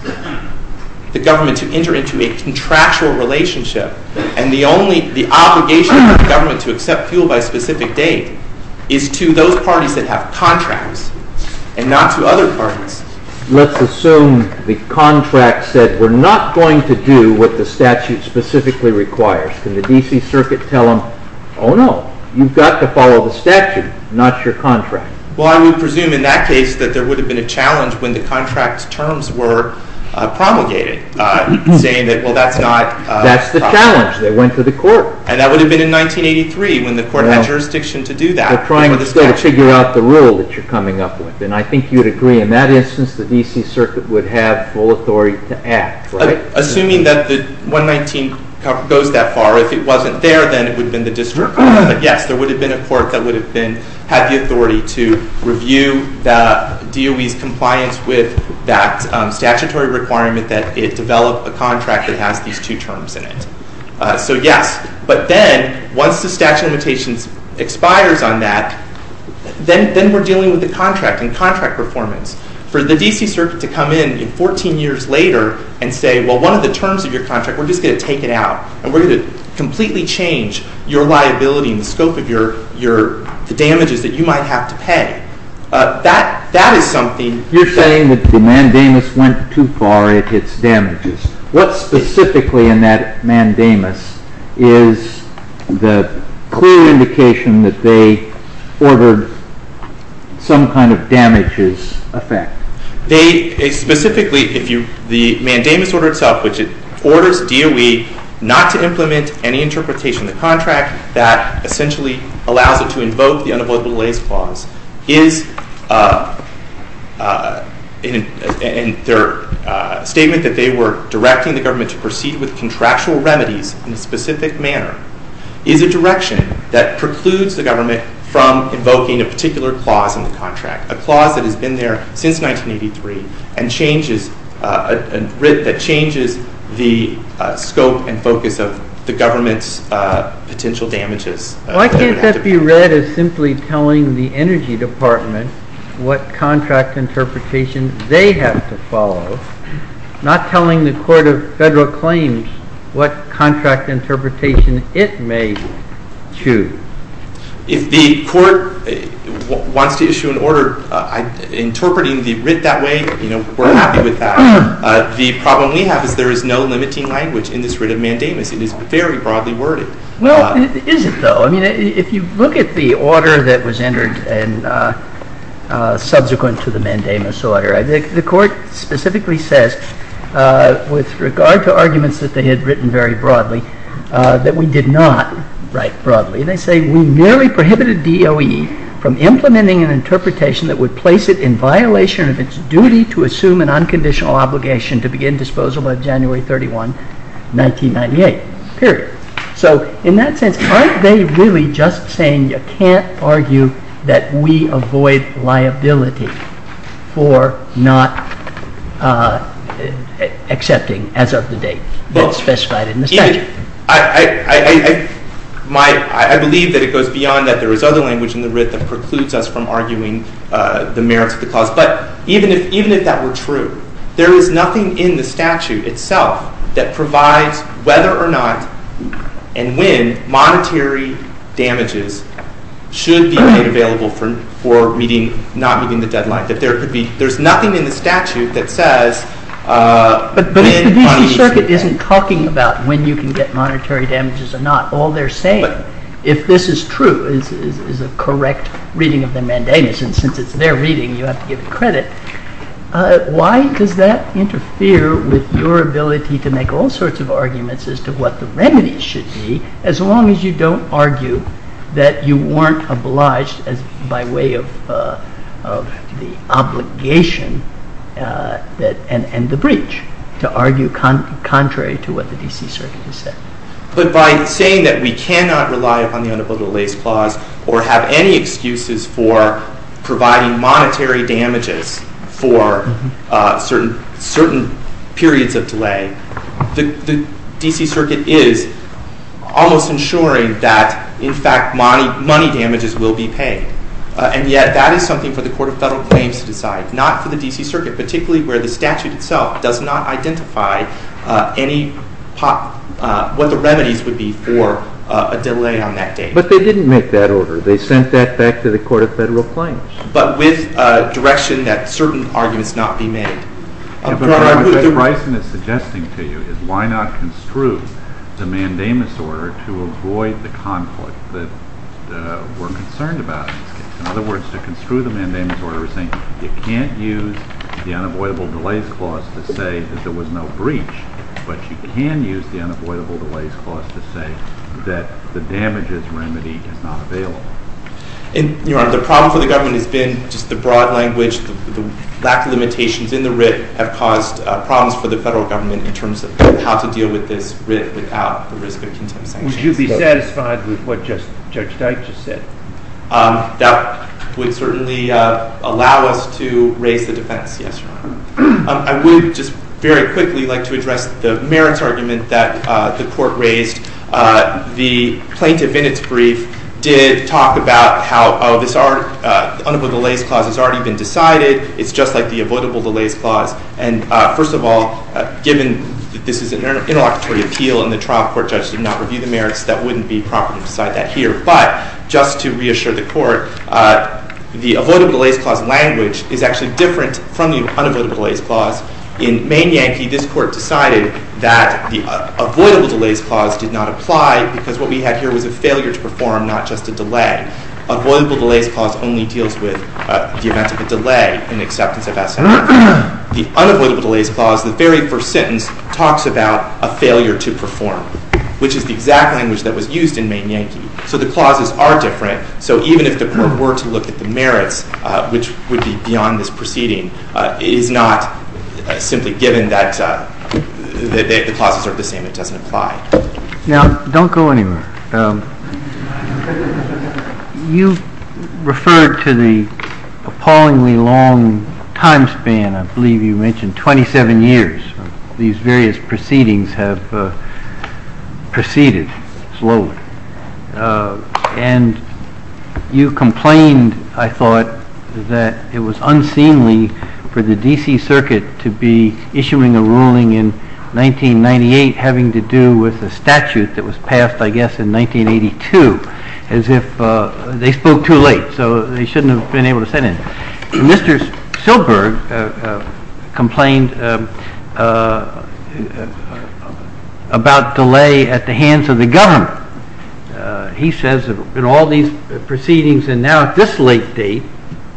the government to enter into a contractual relationship, and the only, the obligation for the government to accept fuel by a specific date is to those parties that have contracts and not to other parties. Let's assume the contract said, we're not going to do what the statute specifically requires. Can the D.C. Circuit tell them, oh, no, you've got to follow the statute, not your contract? Well, I would presume in that case that there would have been a challenge when the contract's terms were promulgated, saying that, well, that's not proper. That's the challenge. They went to the Court. And that would have been in 1983 when the Court had jurisdiction to do that. They're trying to figure out the rule that you're coming up with. And I think you'd agree in that instance the D.C. Circuit would have full authority to act, right? Assuming that the 119 goes that far. If it wasn't there, then it would have been the district court. But yes, there would have been a court that would have had the authority to review the DOE's compliance with that statutory requirement that it develop a contract that has these two terms in it. So yes. But then once the statute of limitations expires on that, then we're dealing with the contract and contract performance. For the D.C. Circuit to come in 14 years later and say, well, one of the terms of your contract, we're just going to take it out and we're going to completely change your liability and the scope of the damages that you might have to pay, that is something... You're saying that the mandamus went too far. It hits damages. What specifically in that mandamus is the clear indication that they ordered some kind of damages effect? Specifically, the mandamus order itself, which orders DOE not to implement any interpretation of the contract that essentially allows it to invoke the unavoidable delays clause, is in their statement that they were directing the government to proceed with contractual remedies in a specific manner, is a direction that precludes the government from invoking a particular clause in the contract, a clause that has been there since 1983 and changes the scope and focus of the government's potential damages. Why can't that be read as simply telling the Energy Department what contract interpretation they have to follow, not telling the Court of Federal Claims what contract interpretation it may choose? If the Court wants to issue an order interpreting the writ that way, we're happy with that. The problem we have is there is no limiting language in this writ of mandamus. It is very broadly worded. Well, it isn't, though. I mean, if you look at the order that was entered subsequent to the mandamus order, the Court specifically says, with regard to arguments that they had written very broadly, that we did not write broadly. They say we merely prohibited DOE from implementing an interpretation that would place it in violation of its duty to assume an unconditional obligation to begin disposal by January 31, 1998. Period. So in that sense, aren't they really just saying you can't argue that we avoid liability for not accepting as of the date that's specified in the statute? I believe that it goes beyond that there is other language in the writ that precludes us from arguing the merits of the clause. But even if that were true, there is nothing in the statute itself that provides whether or not and when monetary damages should be made available for not meeting the deadline. There's nothing in the statute that says when money should be made available. But if the D.C. Circuit isn't talking about when you can get monetary damages or not, all they're saying, if this is true, is a correct reading of the mandamus, and since it's their reading, you have to give it credit, why does that interfere with your ability to make all sorts of arguments as to what the remedies should be, as long as you don't argue that you weren't obliged by way of the obligation and the breach to argue contrary to what the D.C. Circuit has said. But by saying that we cannot rely upon the unavoidable delays clause or have any excuses for providing monetary damages for certain periods of delay, the D.C. Circuit is almost ensuring that in fact money damages will be paid. And yet that is something for the Court of Federal Claims to decide, not for the D.C. Circuit, particularly where the statute itself does not identify what the remedies would be for a delay on that date. But they didn't make that order. They sent that back to the Court of Federal Claims. But with direction that certain arguments not be made. But what Judge Bryson is suggesting to you is why not construe the mandamus order to avoid the conflict that we're concerned about in this case. In other words, to construe the mandamus order, we're saying you can't use the unavoidable delays clause to say that there was no breach, but you can use the unavoidable delays clause to say that the damages remedy is not available. Your Honor, the problem for the government has been just the broad language, the lack of limitations in the writ have caused problems for the federal government in terms of how to deal with this writ without the risk of contempt sanctions. Would you be satisfied with what Judge Dyke just said? That would certainly allow us to raise the defense, yes, Your Honor. I would just very quickly like to address the merits argument that the Court raised. The plaintiff in its brief did talk about how this unavoidable delays clause has already been decided. It's just like the avoidable delays clause. And first of all, given that this is an interlocutory appeal and the trial court judge did not review the merits, that wouldn't be proper to decide that here. But just to reassure the Court, the avoidable delays clause language is actually different from the unavoidable delays clause. In Maine Yankee, this Court decided that the avoidable delays clause did not apply because what we had here was a failure to perform, not just a delay. Avoidable delays clause only deals with the event of a delay in acceptance of essay. The unavoidable delays clause, the very first sentence, talks about a failure to perform, which is the exact language that was used in Maine Yankee. So the clauses are different. So even if the Court were to look at the merits, which would be beyond this proceeding, it is not simply given that the clauses are the same. It doesn't apply. Now, don't go anywhere. You referred to the appallingly long time span. I believe you mentioned 27 years. These various proceedings have proceeded slowly. And you complained, I thought, that it was unseemly for the D.C. Circuit to be issuing a ruling in 1998 having to do with a statute that was passed, I guess, in 1982, as if they spoke too late. So they shouldn't have been able to send it. Mr. Silberg complained about delay at the hands of the government. He says that in all these proceedings, and now at this late date,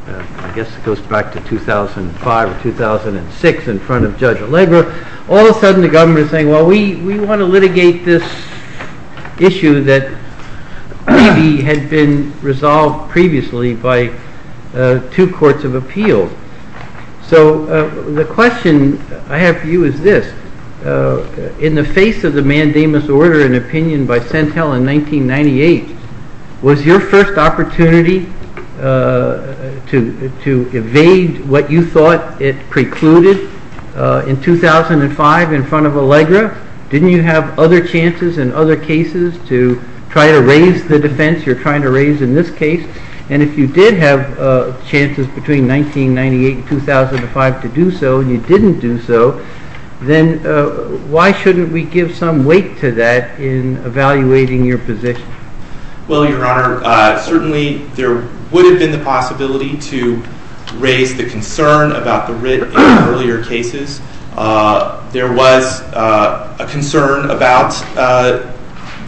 I guess it goes back to 2005 or 2006, in front of Judge Allegra, all of a sudden the government is saying, well, we want to litigate this issue that maybe had been resolved previously by two courts of appeal. So the question I have for you is this. In the face of the mandamus order and opinion by Sentel in 1998, was your first opportunity to evade what you thought it precluded in 2005 in front of Allegra? Didn't you have other chances in other cases to try to raise the defense you're trying to raise in this case? And if you did have chances between 1998 and 2005 to do so and you didn't do so, then why shouldn't we give some weight to that in evaluating your position? Well, Your Honor, certainly there would have been the possibility to raise the concern about the writ in earlier cases. There was a concern about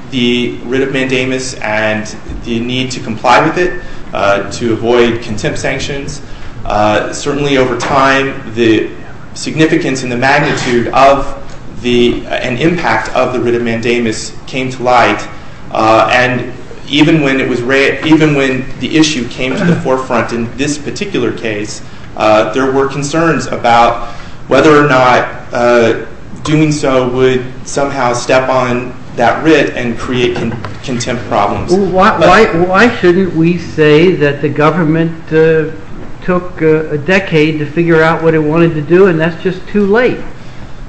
the writ of mandamus and the need to comply with it to avoid contempt sanctions. Certainly over time, the significance and the magnitude and impact of the writ of mandamus came to light. And even when the issue came to the forefront in this particular case, there were concerns about whether or not doing so would somehow step on that writ and create contempt problems. Well, why shouldn't we say that the government took a decade to figure out what it wanted to do and that's just too late?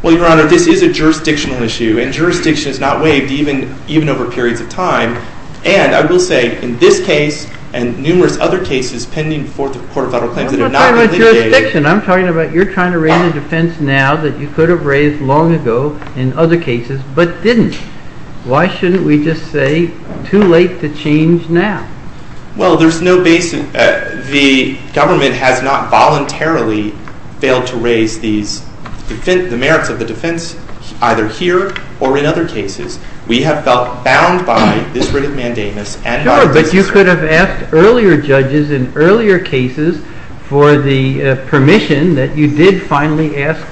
Well, Your Honor, this is a jurisdictional issue and jurisdiction is not waived even over periods of time. And I will say, in this case and numerous other cases pending before the Court of Federal Claims that have not been litigated... I'm not talking about jurisdiction. I'm talking about you're trying to raise a defense now that you could have raised long ago in other cases but didn't. Why shouldn't we just say, too late to change now? Well, there's no basic... The government has not voluntarily failed to raise the merits of the defense either here or in other cases. We have felt bound by this writ of mandamus and by the D.C. Circuit. Sure, but you could have asked earlier judges in earlier cases for the permission that you did finally ask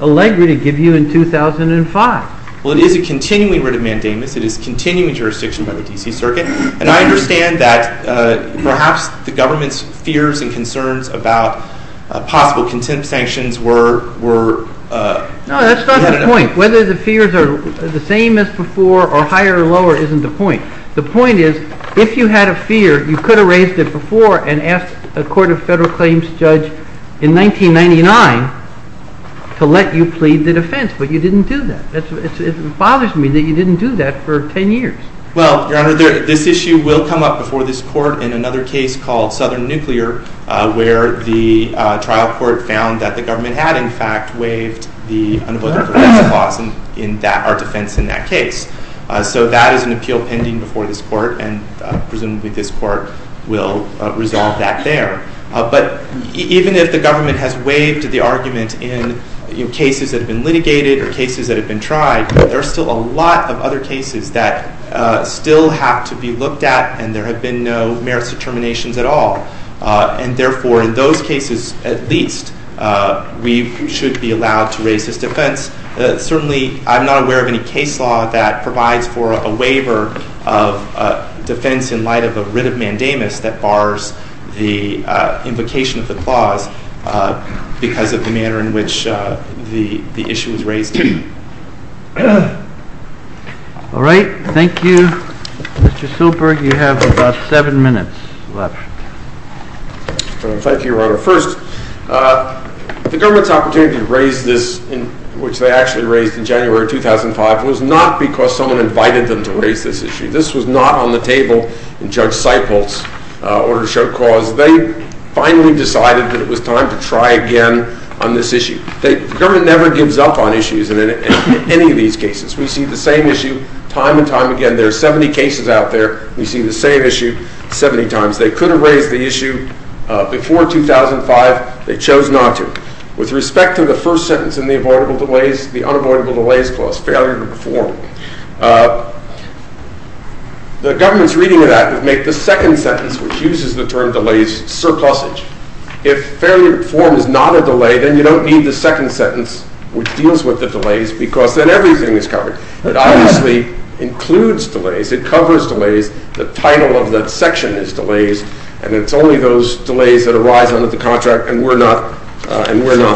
Allegri to give you in 2005. Well, it is a continuing writ of mandamus. It is continuing jurisdiction by the D.C. Circuit. And I understand that perhaps the government's fears and concerns about possible contempt sanctions were... No, that's not the point. Whether the fears are the same as before or higher or lower isn't the point. The point is, if you had a fear, you could have raised it before and asked a Court of Federal Claims judge in 1999 to let you plead the defense, but you didn't do that. It bothers me that you didn't do that for 10 years. Well, Your Honor, this issue will come up before this court in another case called Southern Nuclear where the trial court found that the government had, in fact, waived the unapologetic defense clause in our defense in that case. So that is an appeal pending before this court and presumably this court will resolve that there. But even if the government has waived the argument in cases that have been litigated or cases that have been tried, there are still a lot of other cases that still have to be looked at and there have been no merits determinations at all. And therefore, in those cases at least, we should be allowed to raise this defense. Certainly, I'm not aware of any case law that provides for a waiver of defense in light of a writ of mandamus that bars the invocation of the clause because of the manner in which the issue was raised. All right. Thank you. Mr. Silber, you have about seven minutes left. Thank you, Your Honor. First, the government's opportunity to raise this, which they actually raised in January 2005, was not because someone invited them to raise this issue. This was not on the table in Judge Seipholz's order to show cause. They finally decided that it was time to try again on this issue. The government never gives up on issues in any of these cases. We see the same issue time and time again. There are 70 cases out there. We see the same issue 70 times. They could have raised the issue before 2005. They chose not to. With respect to the first sentence in the unavoidable delays clause, failure to perform, the government's reading of that would make the second sentence, which uses the term delays, surplusage. If failure to perform is not a delay, then you don't need the second sentence, which deals with the delays, because then everything is covered. It obviously includes delays. It covers delays. The title of that section is delays, and it's only those delays that arise under the contract, and we're not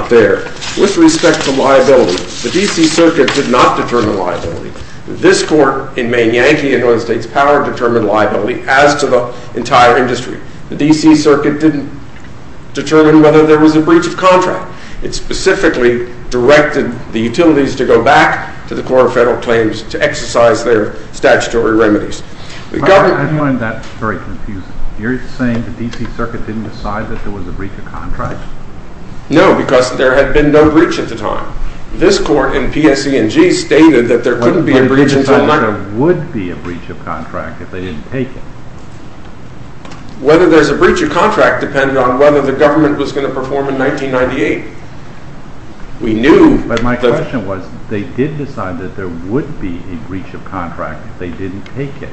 there. With respect to liability, the D.C. Circuit did not determine liability. This Court in Maine Yankee in the United States Power determined liability as to the entire industry. The D.C. Circuit didn't determine whether there was a breach of contract. It specifically directed the utilities to go back to the Court of Federal Claims to exercise their statutory remedies. The government... I find that very confusing. You're saying the D.C. Circuit didn't decide that there was a breach of contract? No, because there had been no breach at the time. This Court in P.S.C. and G. stated that there couldn't be a breach until... But they decided there would be a breach of contract if they didn't take it. Whether there's a breach of contract depended on whether the government was going to perform in 1998. We knew... But my question was, they did decide that there would be a breach of contract if they didn't take it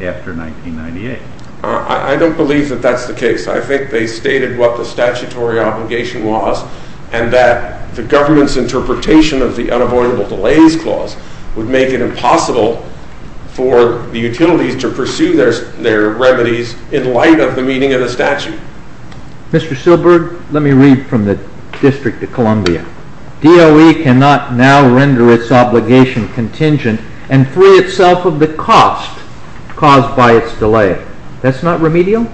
after 1998. I don't believe that that's the case. I think they stated what the statutory obligation was and that the government's interpretation of the Unavoidable Delays Clause would make it impossible for the utilities to pursue their remedies in light of the meaning of the statute. Mr. Silberg, let me read from the District of Columbia. DOE cannot now render its obligation contingent and free itself of the cost caused by its delay. That's not remedial?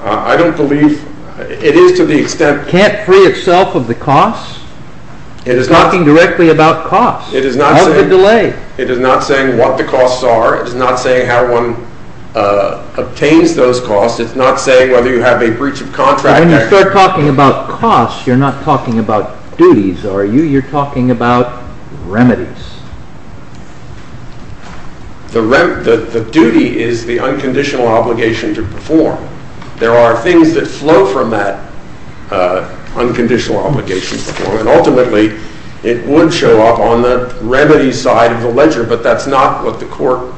I don't believe... It is to the extent... The government can't free itself of the costs? You're talking directly about costs. It is not saying... Of the delay. It is not saying what the costs are. It is not saying how one obtains those costs. It's not saying whether you have a breach of contract. When you start talking about costs, you're not talking about duties, are you? You're talking about remedies. The duty is the unconditional obligation to perform. There are things that flow from that unconditional obligation. Ultimately, it would show up on the remedy side of the ledger, but that's not what the court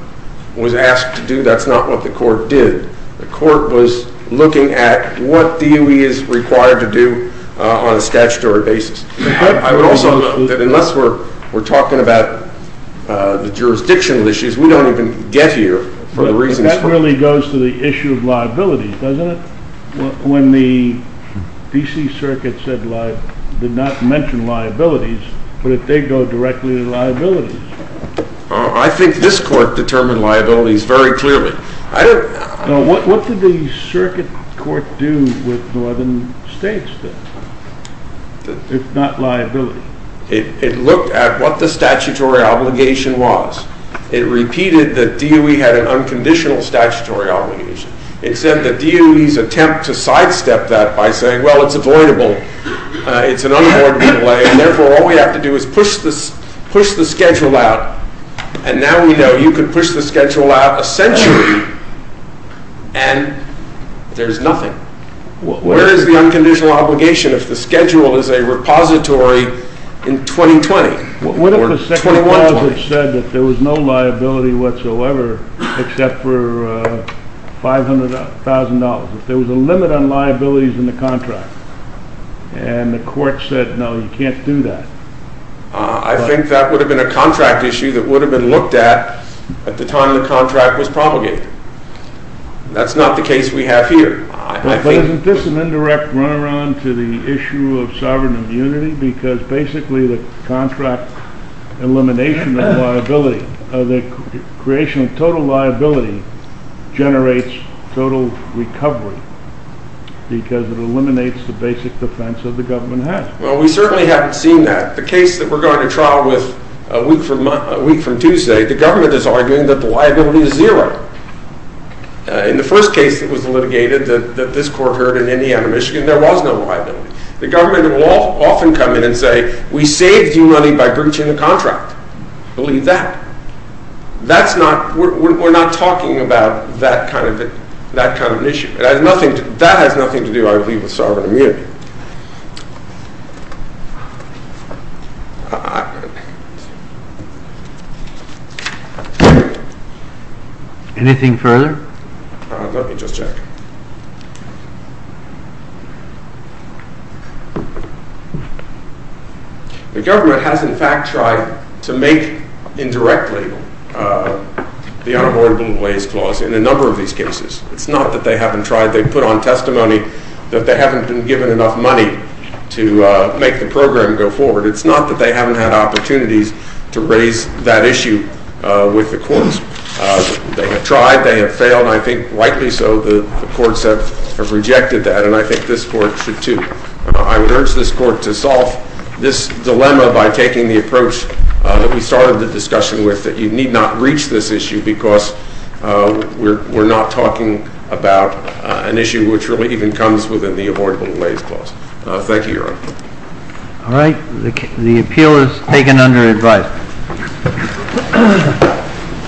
was asked to do. That's not what the court did. The court was looking at what DOE is required to do on a statutory basis. I would also note that unless we're talking about the jurisdictional issues, we don't even get here for the reasons... It really goes to the issue of liability, doesn't it? When the D.C. Circuit did not mention liabilities, but if they go directly to liabilities... I think this court determined liabilities very clearly. What did the circuit court do with northern states then? If not liability? It looked at what the statutory obligation was. It repeated that DOE had an unconditional statutory obligation. It said that DOE's attempt to sidestep that by saying, well, it's avoidable, it's an unavoidable delay, and therefore all we have to do is push the schedule out, and now we know you could push the schedule out a century, and there's nothing. Where is the unconditional obligation if the schedule is a repository in 2020? What if the second clause had said that there was no liability whatsoever except for $500,000? If there was a limit on liabilities in the contract and the court said, no, you can't do that? I think that would have been a contract issue that would have been looked at at the time the contract was propagated. That's not the case we have here. Isn't this an indirect run-around to the issue of sovereign immunity? Because basically the contract elimination of liability, the creation of total liability, generates total recovery because it eliminates the basic defense that the government has. Well, we certainly haven't seen that. The case that we're going to trial with a week from Tuesday, the government is arguing that the liability is zero. In the first case that was litigated that this court heard in Indiana, Michigan, there was no liability. The government will often come in and say, we saved you money by breaching the contract. Believe that. We're not talking about that kind of an issue. That has nothing to do, I believe, with sovereign immunity. Anything further? Let me just check. The government has, in fact, tried to make indirectly the Unavoidable Ways Clause in a number of these cases. It's not that they haven't tried. They've put on testimony that they haven't been given enough money to make the program go forward. It's not that they haven't had opportunities to raise that issue with the courts. They have tried, they have failed, and I think rightly so the courts have rejected that, and I think this court should too. I would urge this court to solve this dilemma by taking the approach that we started the discussion with, that you need not reach this issue because we're not talking about an issue which really even comes within the Avoidable Ways Clause. Thank you, Your Honor. All right. The appeal is taken under advice.